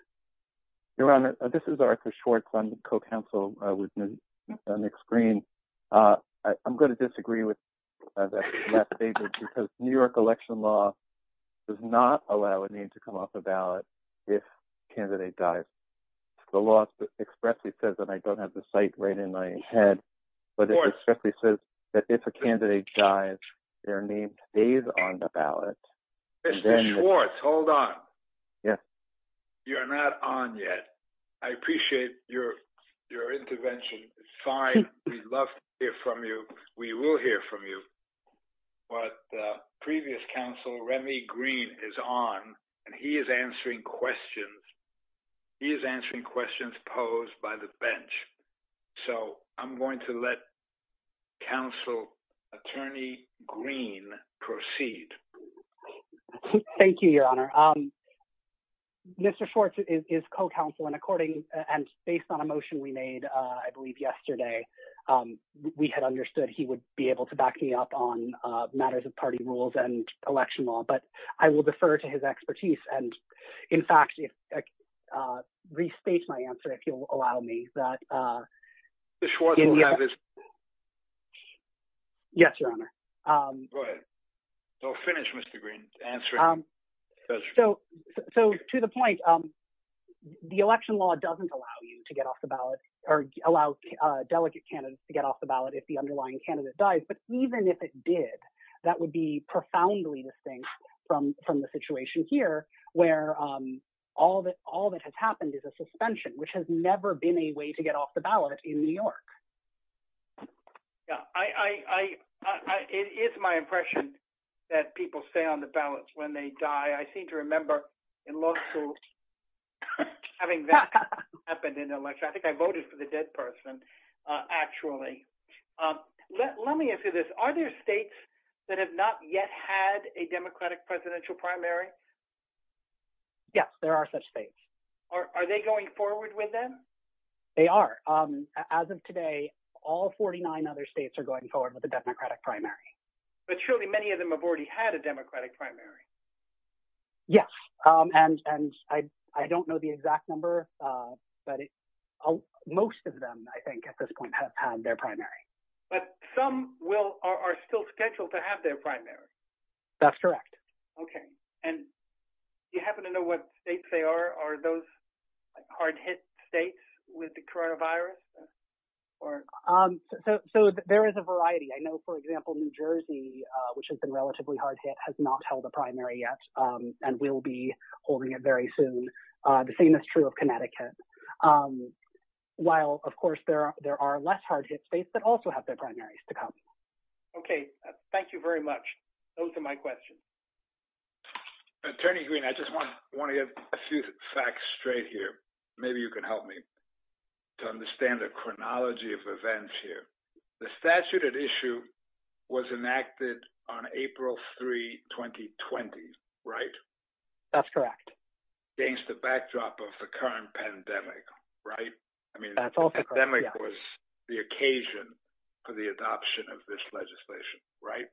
Your honor, this is Arthur Schwartz on the co-council with me on the screen. I'm going to disagree with that statement, because New York election law does not allow a need to come off the ballot if a candidate dies. The law expressly says, and I don't have the site right in my head, but it expressly says that if a candidate dies, their name stays on the ballot. Mr. Schwartz, hold on. You're not on yet. I appreciate your intervention. It's fine. We'd love to hear from you. We will hear from you. But the previous counsel, Remy Green, is on, and he is answering questions. He is answering questions posed by the bench. So, I'm going to let counsel attorney Green proceed. Thank you, your honor. Mr. Schwartz is co-counsel, and according, and based on a motion we made, I believe yesterday, we had understood he would be able to back me up on matters of party rules and election law, but I will defer to his expertise and, in fact, restate my answer, if you'll allow me. Yes, your honor. Go ahead. No, finish, Mr. Green. So, to the point, the election law doesn't allow you to get off the ballot, or allow delegate candidates to get off the ballot if the underlying candidate dies, but even if it did, that would be profoundly distinct from the situation here, where all that has happened is a suspension, which has never been a way to get off the ballot in New York. Yeah. It is my impression that people stay on the ballots when they die. I seem to remember in law school having that happen in the election. I think I voted for the dead person, actually. Let me answer this. Are there states that have not yet had a Democratic presidential primary? Yes, there are such states. Are they going forward with them? They are. As of today, all 49 other states are going forward with a Democratic primary. But surely many of them have already had a Democratic primary. Yes, and I don't know the exact number, but most of them, I think, at this point have had their primary. But some are still scheduled to have their primary. That's correct. Okay. And you happen to know what states they are? Are those hard-hit states with the coronavirus? So, there is a variety. I know, for example, New Jersey, which has been relatively hard-hit, has not held a primary yet and will be holding it very soon. The same is true of Connecticut. While, of course, there are less hard-hit states that also have their primaries to come. Okay. Thank you very much. Those are my questions. Attorney Green, I just want to get a few facts straight here. Maybe you can help me to understand the chronology of events here. The statute at issue was enacted on April 3, 2020, right? That's correct. Against the backdrop of the current pandemic, right? I mean, the pandemic was the occasion for the adoption of this legislation, right?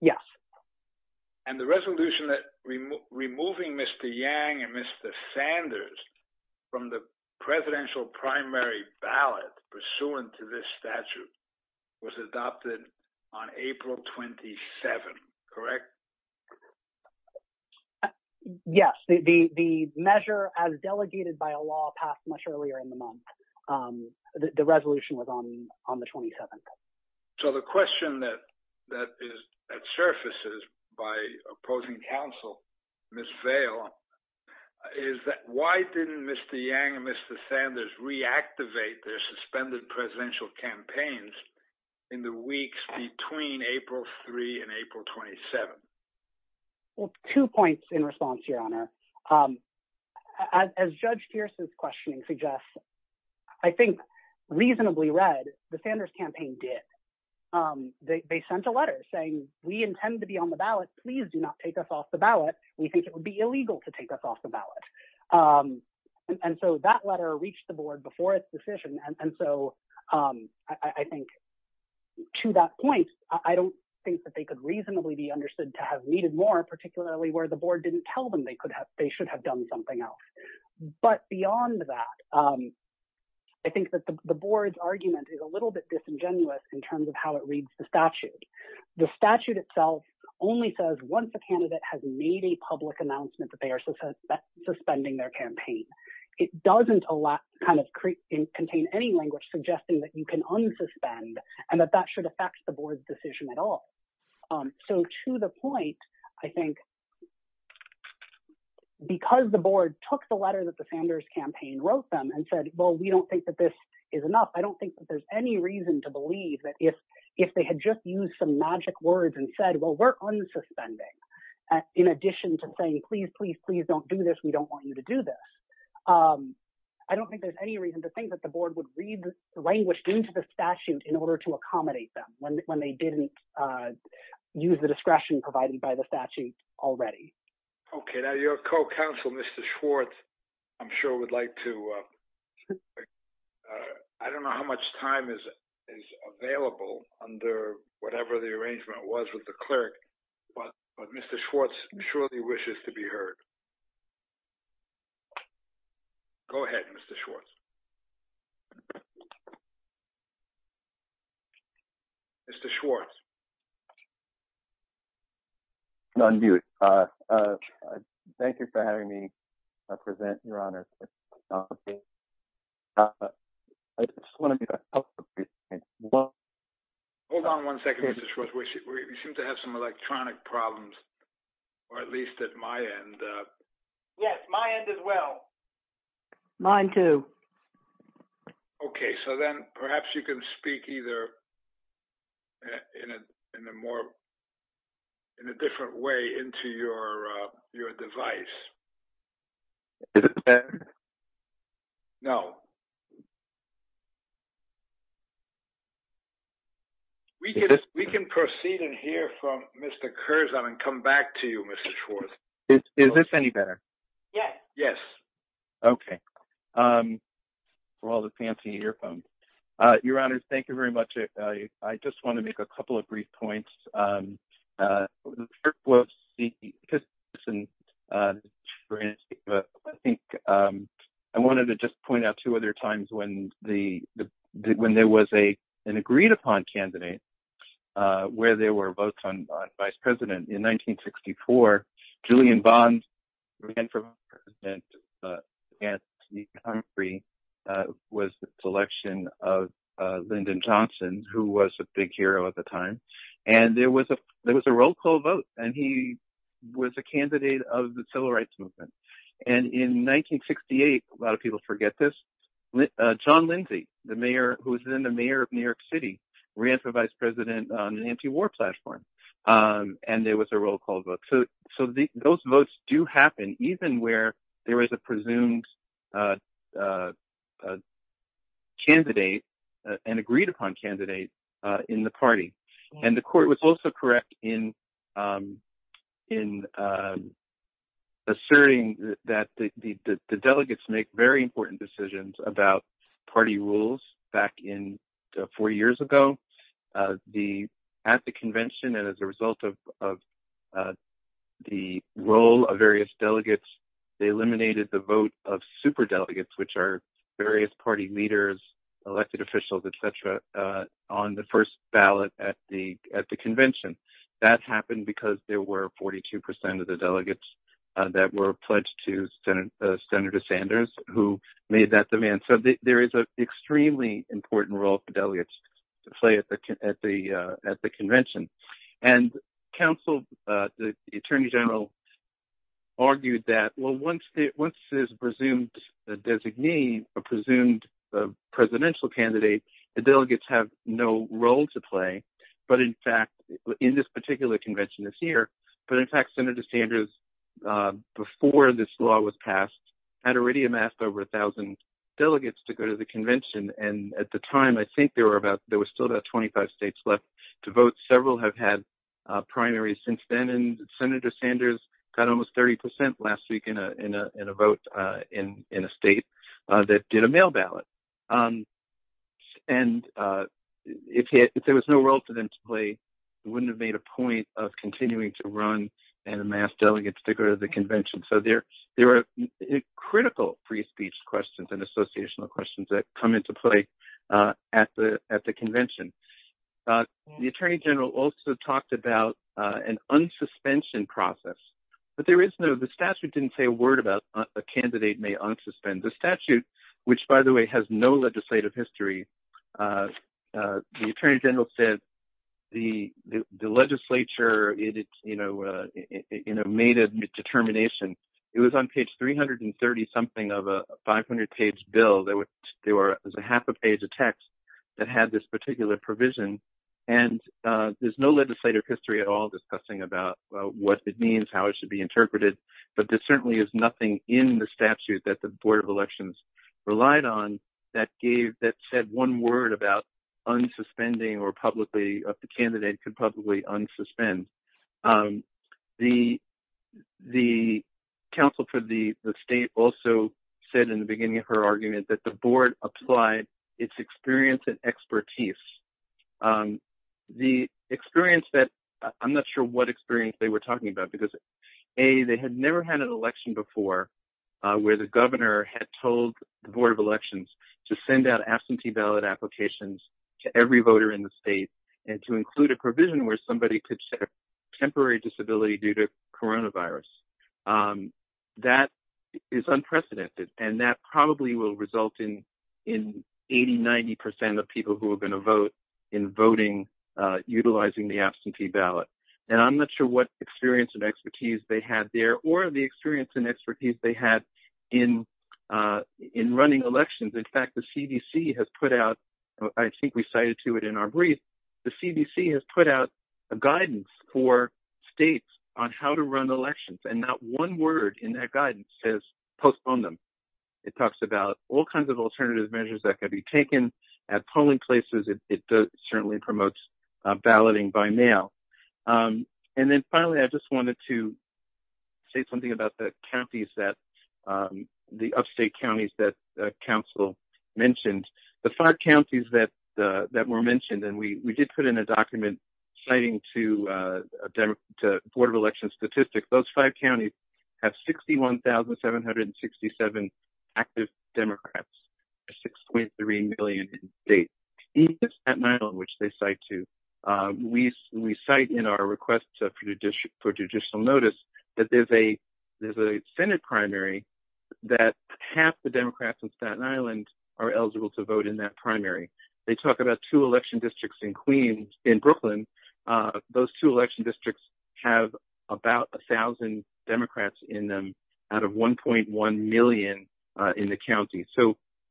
Yes. And the resolution that removing Mr. Yang and Mr. Sanders from the presidential primary ballot pursuant to this statute was adopted on April 27, correct? Yes. The measure, as delegated by law, passed much earlier in the month. The resolution was on the 27th. So, the question that surfaces by opposing counsel, Ms. Vail, is that why didn't Mr. Yang and Mr. Sanders reactivate their suspended presidential campaigns in the weeks between April 3 and April 27? Well, two points in response, Your Honor. As Judge Pierce's question suggests, I think, reasonably read, the Sanders campaign did. They sent a letter saying, we intend to be on the ballot. Please do not take us off the ballot. We think it would be illegal to take us off the ballot. And so, that letter reached the board before its decision. And so, I think, to that point, I don't think that they could reasonably be understood to have needed more, particularly where the board didn't tell them they should have done something else. But beyond that, I think that the board's argument is a little bit disingenuous in terms of how it reads the statute. The statute itself only says, once a candidate has made a public announcement that they are suspending their campaign. It doesn't contain any language suggesting that you can unsuspend and that that should affect the board's decision at all. So, to the point, I think, because the board took the letter that the Sanders campaign wrote them and said, well, we don't think that this is enough, I don't think that there's any reason to believe that if they had just used some magic words and said, well, we're unsuspending, in addition to saying, please, please, please don't do this, we don't want you to do this. I don't think there's any reason to think that the board would read the language into the statute in order to accommodate them when they didn't use the discretion provided by the statute already. Okay. Now, your co-counsel, Mr. Schwartz, I'm sure would like to, I don't know how much time is available under whatever the arrangement was with the clerk, but Mr. Schwartz surely wishes to be heard. Go ahead, Mr. Schwartz. Mr. Schwartz. None viewed. Thank you for having me present, your honor. I just want to be helpful. Well, hold on one second, Mr. Schwartz, we seem to have some electronic problems, or at least at my end. Yes, my end as well. Mine too. Okay. So then perhaps you can speak either in a different way into your device. No. We can proceed and hear from Mr. Curzon and come back to you, Mr. Schwartz. Is this any better? Yes. Yes. Okay. For all the fancy earphones. Your honor, thank you very much. I just want to make a couple of brief points. I wanted to just point out two other times when there was an agreed upon candidate where there were votes on vice president. In 1964, Julian Bond was the selection of Lyndon Johnson, who was a big hero at the time. There was a roll call vote, and he was a candidate of the civil rights movement. In 1968, a lot of people forget this, John Lindsay, who was then the mayor of New York City, ran for vice president on an anti-war platform, and there was a roll call candidate in the party. The court was also correct in asserting that the delegates make very important decisions about party rules back in four years ago. At the convention, and as a result of the role of various delegates, they eliminated the vote of superdelegates, which are various party leaders, elected officials, etc., on the first ballot at the convention. That happened because there were 42% of the delegates that were pledged to Senator Sanders, who made that demand. There is an extremely important role for delegates to play at the convention. The attorney general argued that once there's a presumed presidential candidate, the delegates have no role to play in this particular convention this year. In fact, Senator Sanders, before this law was passed, had already amassed over a thousand delegates to go to the convention. At the time, I think there were still about 25 states left to vote. Several have had primaries since then, and Senator Sanders got almost 30% last week in a vote in a state that did a mail ballot. If there was no role for them to play, he wouldn't have made a point of continuing to run and amass delegates to go to the convention. There are critical free speech questions and associational questions that come into play at the convention. The attorney general also talked about an unsuspension process. The statute didn't say a word about a candidate may unsuspend. The statute, which by the way has no legislative history, the attorney general said the legislature made a determination. It was on page 330-something of a 500-page bill. There was a half a page of text that had this particular provision. There's no legislative history at all discussing about what it means, how it should be interpreted. There certainly is nothing in the statute that the Board of Elections relied on that said one word about unsuspending or publicly, the candidate could publicly unsuspend. The counsel for the state also said in the beginning of her argument that the Board applied its experience and expertise. The experience that, I'm not sure what experience they were talking about, because A, they had never had an election before where the governor had told the Board of Elections to send out absentee ballot applications to every voter in the state and to include a provision where somebody could set a temporary disability due to coronavirus. That is unprecedented and that probably will result in 80-90% of people who are going to vote in voting utilizing the absentee ballot. I'm not sure what experience and expertise they had there or the experience and expertise they had in running elections. In fact, the CDC has put out, I think we cited to it in our brief, the CDC has put out a guidance for states on how to run elections and not one word in that guidance says postpone them. It talks about all kinds of alternative measures that could be taken at polling places. It certainly promotes balloting by mail. Finally, I just wanted to say something about the counties, the upstate counties that council mentioned. The five counties that were mentioned, and we did put in a document citing to the Board of Elections statistics, those five counties have 61,767 active Democrats, 6.3 million in the state. Even in Staten Island, which they cite to, we cite in our request for judicial notice that there's a Senate primary that half the Democrats in Staten Island are eligible to vote in that primary. They talk about two election districts in Queens, in Brooklyn. Those two election districts have about 1,000 Democrats in them out of 1.1 million in the county.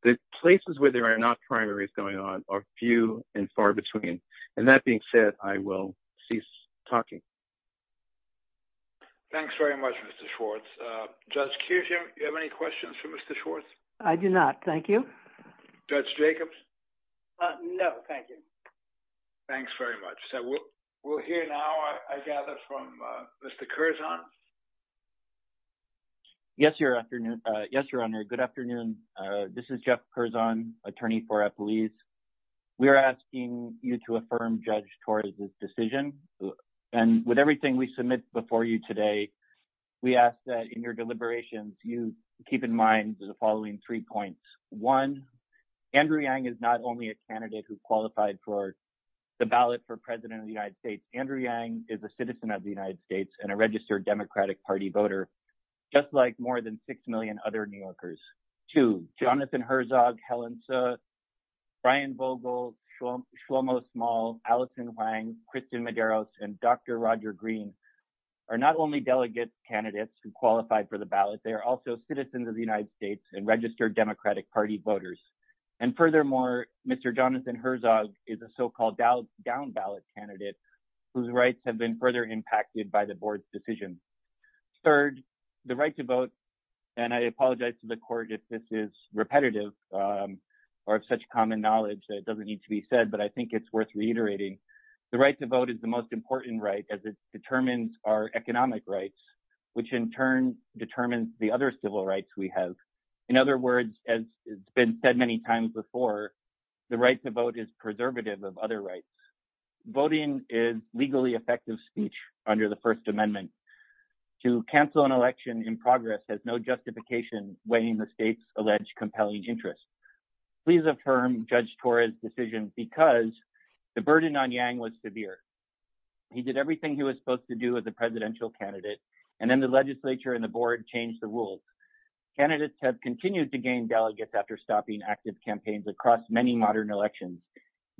The places where there are not primaries going on are few and far between. That being said, I will cease talking. Thanks very much, Mr. Schwartz. Judge Kugin, do you have any questions for Mr. Schwartz? I do not, thank you. Judge Jacobs? No, thank you. Thanks very much. We'll hear now, I gather, from Mr. Curzon. Yes, Your Honor. Good afternoon. This is Jeff Curzon, attorney for Epoese. We are asking you to affirm Judge Torres' decision. With everything we submit before you today, we ask that in your deliberations, you keep in mind the following three points. One, Andrew Yang is not only a candidate who qualified for the ballot for President of the United States, Andrew Yang is a citizen of the United States and a registered Democratic Party voter, just like more than six million other New Yorkers. Two, Jonathan Herzog, Helen Tse, Brian Vogel, Shlomo Small, Alison Wang, Kristen Medeiros, and Dr. Roger Green are not only delegate candidates who qualified for the ballot, they are also citizens of the United States and registered Democratic Party voters. Furthermore, Mr. Jonathan Herzog is a so-called down-ballot candidate whose rights have been further impacted by the Board's decision. Third, the right to vote, and I apologize to the Court if this is repetitive or of such common knowledge that it doesn't need to be said, but I think it's worth reiterating, the right to vote is the most important right as it determines our economic rights, which in turn determines the other civil rights we have. In other words, as has been said many times before, the right to vote is legally effective speech under the First Amendment. To cancel an election in progress has no justification weighing the state's alleged compelling interests. Please affirm Judge Torres' decision because the burden on Yang was severe. He did everything he was supposed to do as a presidential candidate, and then the legislature and the Board changed the rules. Candidates have continued to gain delegates after stopping active campaigns across many modern elections.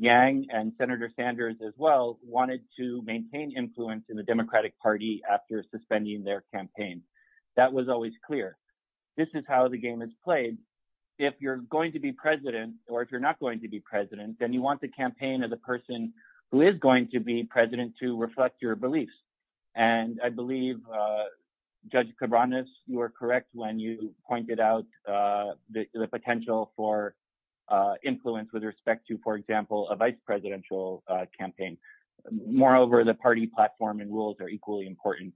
Yang, and Senator Sanders as well, wanted to maintain influence in the Democratic Party after suspending their campaign. That was always clear. This is how the game is played. If you're going to be president, or if you're not going to be president, then you want the campaign of the person who is going to be president to reflect your beliefs. And I believe Judge Cabranes, you were correct when you pointed out the potential for influence with respect to a vice presidential campaign. Moreover, the party platform and rules are equally important.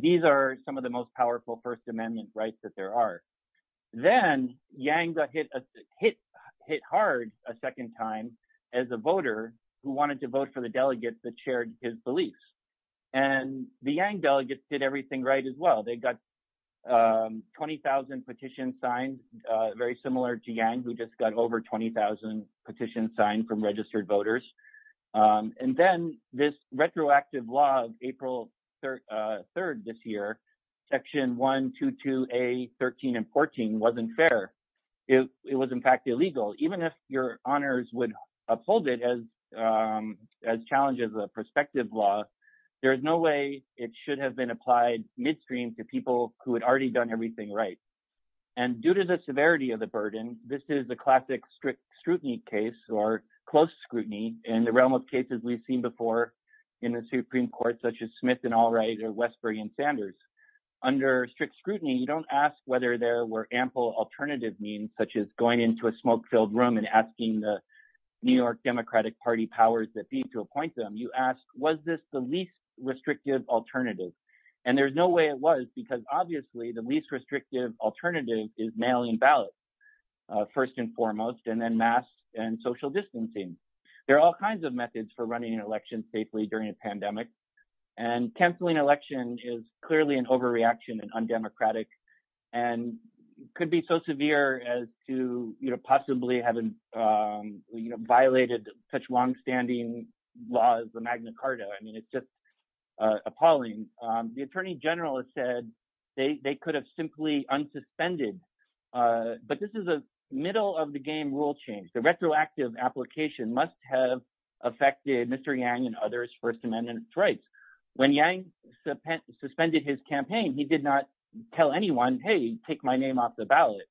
These are some of the most powerful First Amendment rights that there are. Then Yang got hit hard a second time as a voter who wanted to vote for the delegates that shared his beliefs. The Yang delegates did everything right as well. They got 20,000 petitions signed, very similar to Yang, who just got over 20,000 petitions signed from registered voters. And then this retroactive law of April 3rd this year, Section 122A, 13, and 14 wasn't fair. It was in fact illegal. Even if your honors would uphold it as challenges of prospective law, there's no way it should have been applied midstream to people who had already done everything right. And due to the severity of the burden, this is the classic strict scrutiny case or close scrutiny in the realm of cases we've seen before in the Supreme Court, such as Smith and Allwright or Westberg and Sanders. Under strict scrutiny, you don't ask whether there were ample alternative means, such as going into a smoke-filled room and asking the New York Democratic Party powers that be to appoint them. You ask, was this the least restrictive alternative? And there's no way it was, because obviously the least restrictive alternative is mailing ballots, first and foremost, and then masks and social distancing. There are all kinds of methods for running an election safely during a pandemic. And canceling an election is clearly an overreaction and undemocratic, and could be so severe as to possibly having violated such longstanding laws of Magna Carta. I mean, it's just appalling. The attorney general has said they could have simply unsuspended. But this is a middle-of-the-game rule change. The retroactive application must have affected Mr. Yang and others' First Amendment rights. When Yang suspended his campaign, he did not tell anyone, hey, take my name off the ballot.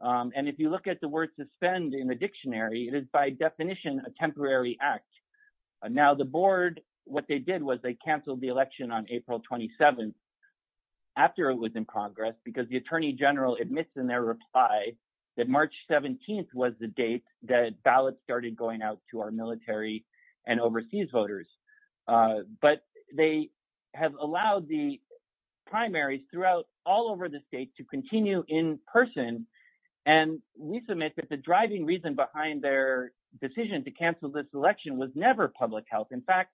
And if you look at the word suspend in the dictionary, it is by definition a temporary act. Now the board, what they did was they canceled the election on April 27th after it was in Congress, because the attorney general admits in their reply that March 17th was the date that ballots started going out to our military and overseas voters. But they have allowed the primaries throughout all over the state to continue in person. And we submit that the driving reason behind their decision to cancel this election was never public health. In fact,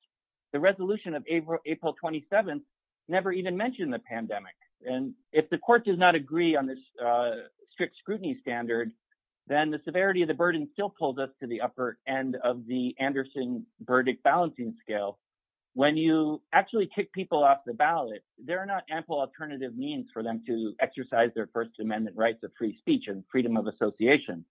the resolution of April 27th never even mentioned the pandemic. And if the court does not agree on this strict scrutiny standard, then the severity of the burden still pulls us to the upper end of the Anderson verdict balancing scale. When you actually kick people off the ballot, there are not ample alternative means for them to exercise their First Amendment rights of free speech and freedom of association.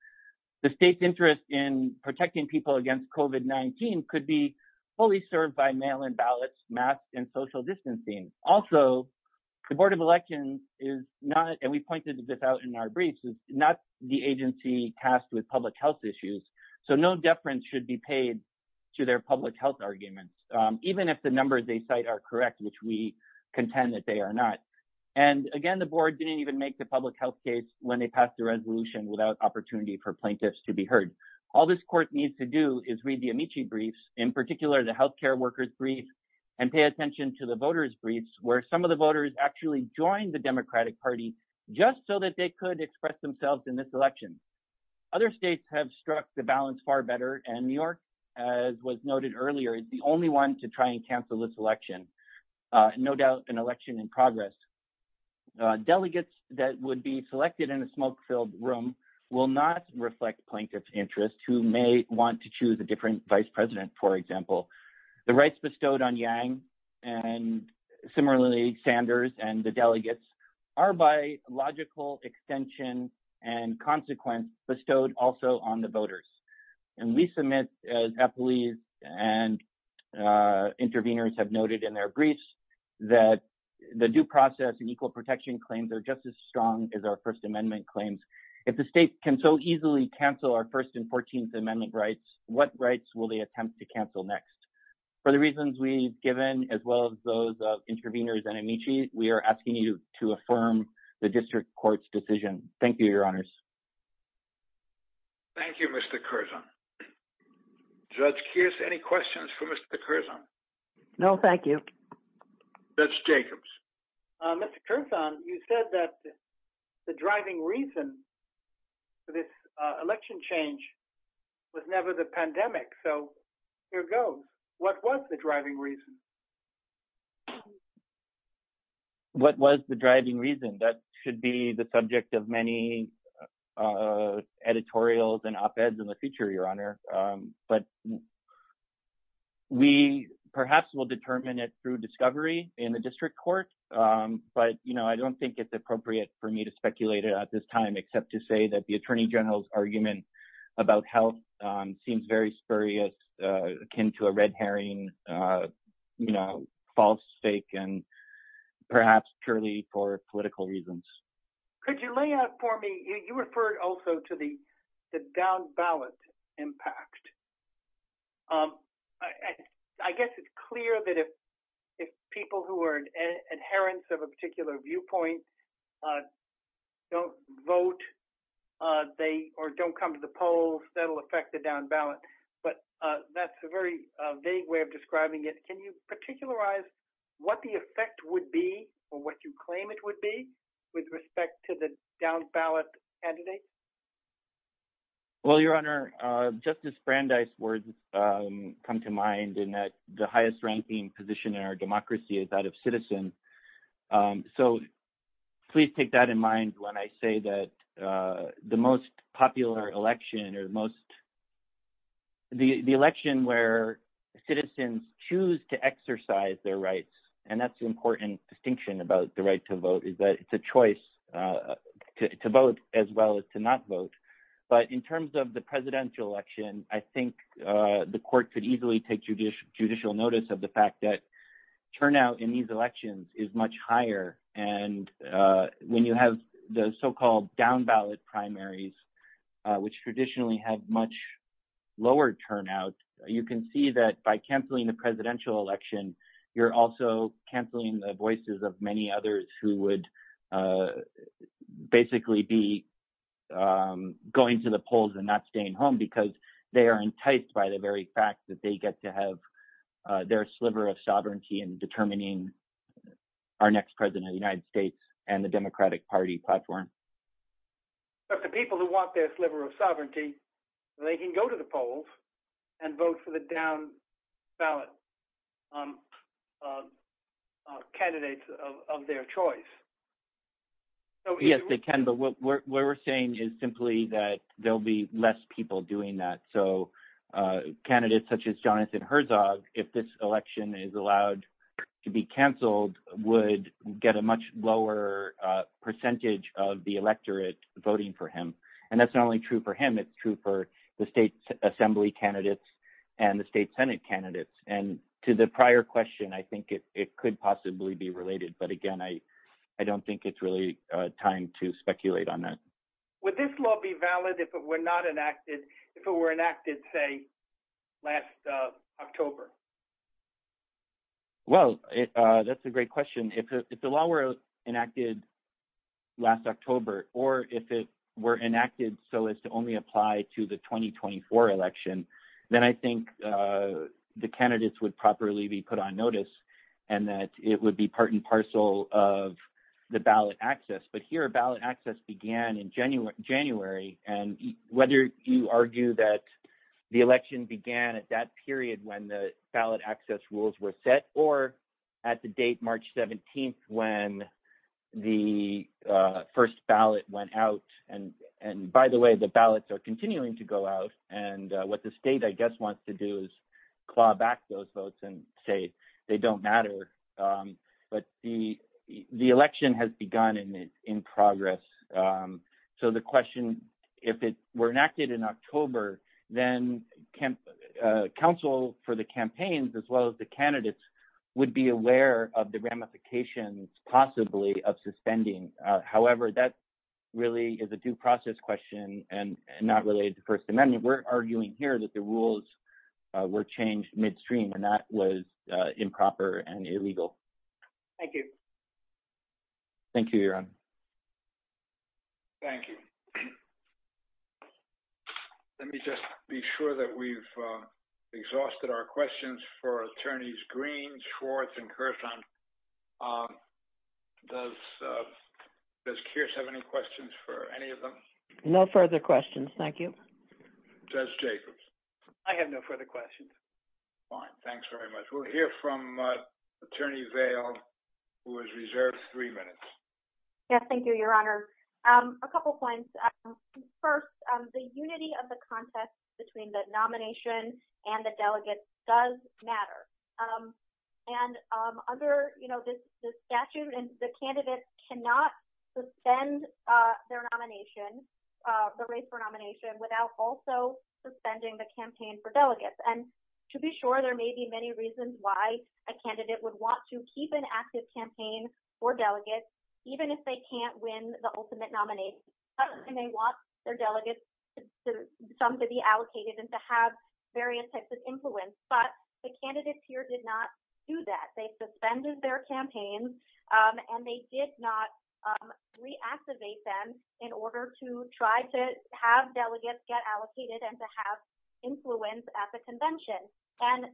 The state's interest in protecting people against COVID-19 could be fully served by mail-in ballots, masks, and social distancing. Also, the Board of Elections is not, and we pointed this out in our briefs, is not the agency tasked with public health issues. So no deference should be paid to their public health arguments, even if the numbers they cite are correct, which we contend that they are not. And again, the board didn't even make the public health case when they passed the resolution without opportunity for plaintiffs to be heard. All this court needs to do is read the Amici briefs, in particular the healthcare workers brief, and pay attention to the voters briefs, where some of the voters actually joined the Democratic Party just so that they could express themselves in this election. Other states have struck the balance far better, and New York, as was noted earlier, is the only one to try and cancel this election. No doubt an election in progress. Delegates that would be selected in a smoke-filled room will not reflect plaintiffs' interests, who may want to choose a different vice president, for example. The rights bestowed on Yang, and similarly Sanders, and the delegates, are by extension and consequence bestowed also on the voters. And we submit, as employees and intervenors have noted in their briefs, that the due process and equal protection claims are just as strong as our First Amendment claims. If the state can so easily cancel our First and Fourteenth Amendment rights, what rights will they attempt to cancel next? For the reasons we've given, as well as those of intervenors and amicis, we are asking you to affirm the district court's decision. Thank you, your honors. Thank you, Mr. Curzon. Judge Kears, any questions for Mr. Curzon? No, thank you. Judge Jacobs. Mr. Curzon, you said that the driving reason for this election change was never the pandemic, so here goes. What was the driving reason? What was the driving reason? That should be the subject of many editorials and op-eds in the future, your honor. But we perhaps will determine it through discovery in the district court, but I don't think it's appropriate for me to speculate it at this time, except to say that the attorney general's argument about health seems very spurious, akin to a red herring, false fake, and perhaps purely for political reasons. Could you lay out for me, you referred also to the down-ballot impact. I guess it's clear that if people who are adherents of a particular viewpoint don't vote or don't come to the polls, that'll affect the down-ballot. But that's a very vague way of describing it. Can you particularize what the effect would be or what you claim it would be with respect to the down-ballot candidate? Well, your honor, Justice Brandeis' words come to mind in that the highest-ranking position in our democracy is that of citizens. So please take that in mind when I say that the most popular election or the election where citizens choose to exercise their rights, and that's the important distinction about the right to vote, is that it's a choice to vote as well as to not vote. But in terms of the presidential election, I think the court could easily take judicial notice of the fact that turnout in these elections is much higher. And when you have the so-called down-ballot primaries, which traditionally had much lower turnout, you can see that by canceling the presidential election, you're also canceling the voices of many others who would basically be going to the polls and not staying home because they are enticed by the very fact that they get to have their sliver of sovereignty in determining our next president of the United States and the Democratic Party platform. But the people who want their sliver of sovereignty, they can go to the polls and vote for the down-ballot candidates of their choice. Yes, they can, but what we're saying is simply that there'll be less people doing that. So candidates such as Jonathan Herzog, if this election is allowed to be canceled, would get a much lower percentage of the electorate voting for him. And that's not only true for him, it's true for the state assembly candidates and the state senate candidates. And to the prior question, I think it could possibly be related. But again, I don't think it's really time to speculate on that. Would this law be valid if it were not enacted, if it were enacted, say, last October? Well, that's a great question. If the law were enacted last October, or if it were enacted so as to only apply to the 2024 election, then I think the candidates would properly be put on notice and that it would be part and parcel of the ballot access. But here, ballot access began in January. And whether you argue that the election began at that period when the ballot access rules were set, or at the date, March 17th, when the first ballot went out. And by the way, the ballots are continuing to go out. And what the state, I guess, wants to do is claw back those votes and say, they don't matter. But the election has begun in progress. So the question, if it were enacted in October, then counsel for the campaigns, as well as the candidates, would be aware of the ramifications possibly of suspending. However, that really is a due process question and not related to First Amendment. We're arguing here that the rules were changed midstream, and that was improper and illegal. Thank you. Thank you, Yaron. Thank you. Let me just be sure that we've exhausted our questions for attorneys Green, Schwartz, and Kershaw. Does Kearse have any questions for any of them? No further questions. Thank you. Judge Jacobs? I have no further questions. Fine. Thanks very much. We'll hear from Thank you, Your Honor. A couple points. First, the unity of the contest between the nomination and the delegates does matter. And under the statute, the candidate cannot suspend their nomination, the race for nomination, without also suspending the campaign for delegates. And to be sure, there may be many reasons why a candidate would want to keep an active campaign for delegates, even if they can't win the ultimate nomination. And they want their delegates, some to be allocated, and to have various types of influence. But the candidates here did not do that. They suspended their campaigns, and they did not reactivate them in order to try to have delegates get allocated and to have influence at the convention. And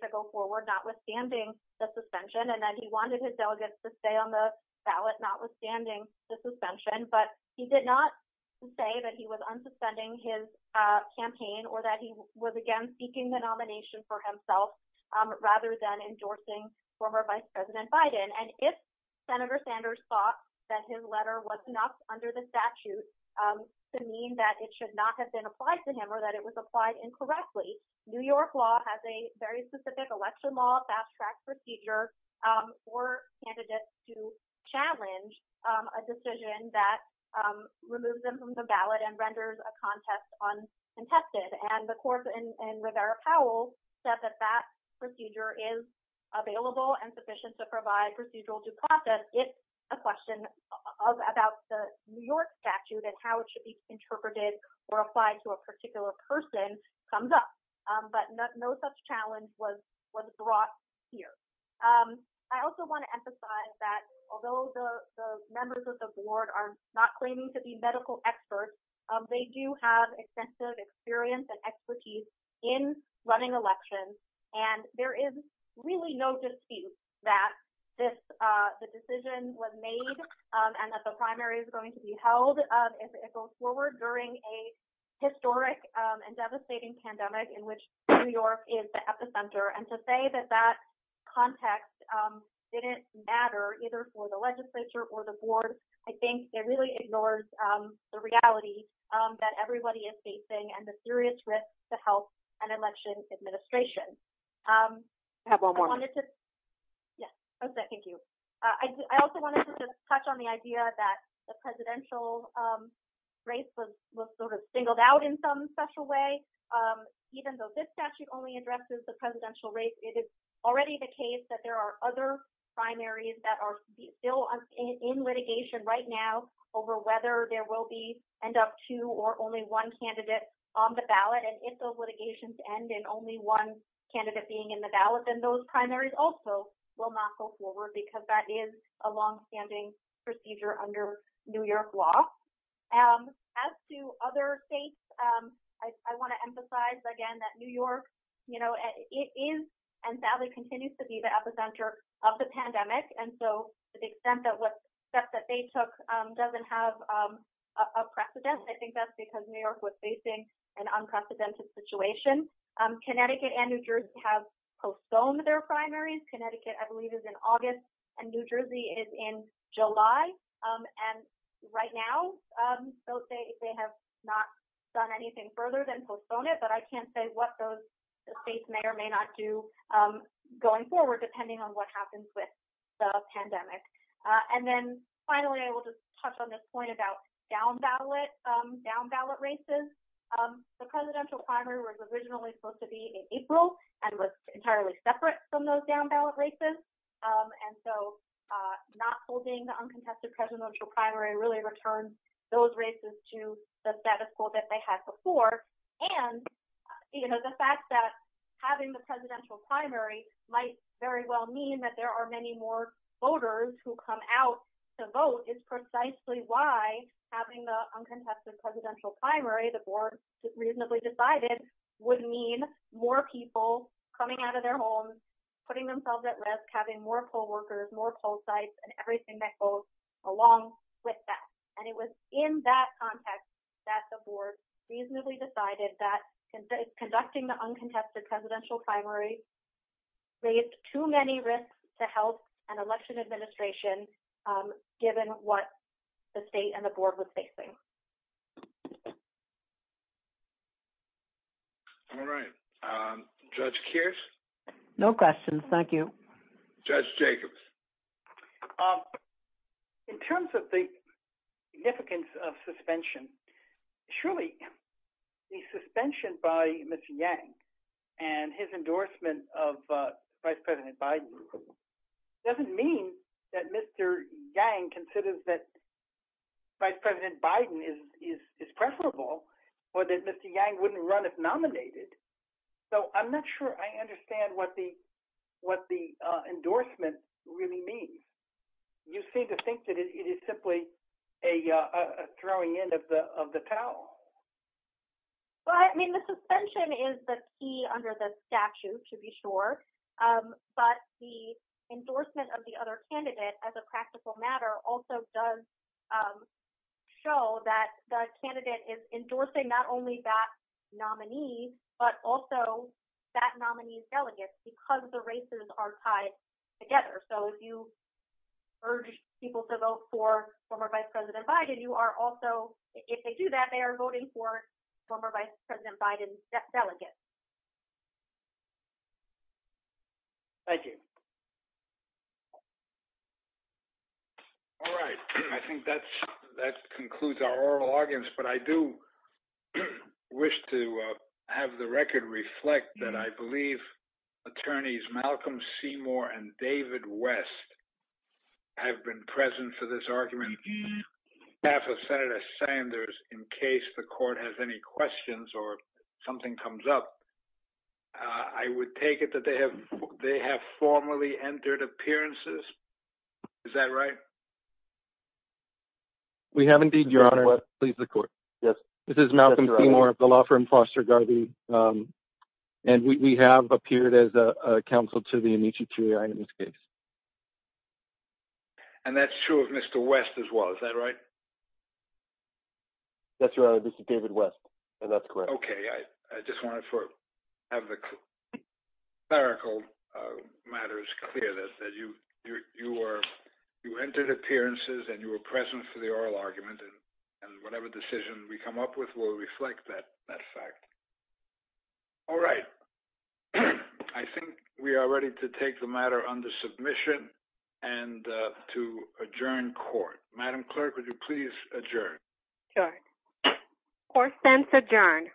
to go forward, notwithstanding the suspension, and that he wanted his delegates to stay on the ballot, notwithstanding the suspension, but he did not say that he was unsuspending his campaign, or that he was, again, seeking the nomination for himself, rather than endorsing former Vice President Biden. And if Senator Sanders thought that his letter was not under the statute, to mean that it should not have been applied to him, or that it was applied incorrectly, New York law has a very specific electoral law fast-track procedure for candidates to challenge a decision that removes them from the ballot and renders a contest uncontested. And the court in Rivera-Powell said that that procedure is available and sufficient to provide procedural due process if a question about the New York statute and how it should be interpreted or person comes up. But no such challenge was brought here. I also want to emphasize that although the members of the board are not claiming to be medical experts, they do have extensive experience and expertise in running elections. And there is really no dispute that this decision was made and that the primary is going to be held as it goes forward during a historic and devastating pandemic in which New York is the epicenter. And to say that that context didn't matter either for the legislature or the board, I think it really ignores the reality that everybody is facing and the serious risk to health and election administration. I have one more. Yes, I second you. I also wanted to touch on the idea that the presidential race was sort of singled out in some special way. Even though this statute only addresses the presidential race, it is already the case that there are other primaries that are still in litigation right now over whether there will be end up two or only one candidate on the ballot. And if those litigations end and only one candidate being in the ballot, then those primaries also will not go forward because that is a longstanding procedure under New York law. As to other states, I want to emphasize again that New York, it is and sadly continues to be the epicenter of the pandemic. And so to the extent that the steps that they took doesn't have a precedent, I think that's because New York was facing an unprecedented situation. Connecticut and New Jersey have postponed their primaries. Connecticut, I believe, is in August and New Jersey is in July. And right now, they have not done anything further than postpone it. But I can't say what those states may or may not do going forward, depending on what happens with the pandemic. And then finally, I will just touch on this point about down ballot races. The presidential primary was originally supposed to be in April and was entirely separate from those down ballot races. And so not holding the uncontested presidential primary really returns those races to the status quo that they had before. And the fact that having the presidential primary might very well mean that there are many more voters who come out to vote is precisely why having the uncontested presidential primary, the board reasonably decided, would mean more people coming out of their homes, putting themselves at risk, having more co-workers, more poll sites, and everything that goes along with that. And it was in that context that the board reasonably decided that conducting the uncontested presidential primary raised too many risks to health and election administration, given what the state and the board was facing. All right. Judge Kears? No questions. Thank you. Judge Jacobs? In terms of the significance of suspension, surely the suspension by Mr. Yang and his endorsement of Vice President Biden doesn't mean that Mr. Yang considers that Vice President Biden is discreditable or that Mr. Yang wouldn't run if nominated. So I'm not sure I understand what the endorsement really means. You seem to think that it is simply a throwing in of the towel. Well, I mean, the suspension is the key under the statute, to be sure. But the endorsement of the other candidate, as a practical matter, also does show that the candidate is endorsing not only that together. So if you urge people to vote for former Vice President Biden, you are also, if they do that, they are voting for former Vice President Biden's delegate. Thank you. All right. I think that concludes our oral audience. But I do think that Senator Sanders and David West have been present for this argument. Staff of Senator Sanders, in case the court has any questions or something comes up, I would take it that they have formally entered appearances. Is that right? We have indeed, Your Honor. Please, the court. Yes. This is Malcolm Seymour of the law firm Foster Garvey. And we have appeared as a counsel to the Amici Trier in this case. And that's true of Mr. West as well. Is that right? That's right. Mr. David West. And that's correct. Okay. I just wanted to have the clerical matters clear that you entered appearances and you were present for the oral argument. And whatever decision we come up with will reflect that fact. All right. I think we are ready to take the matter under submission and to adjourn court. Madam Clerk, would you please adjourn? Sure. Court stands adjourned.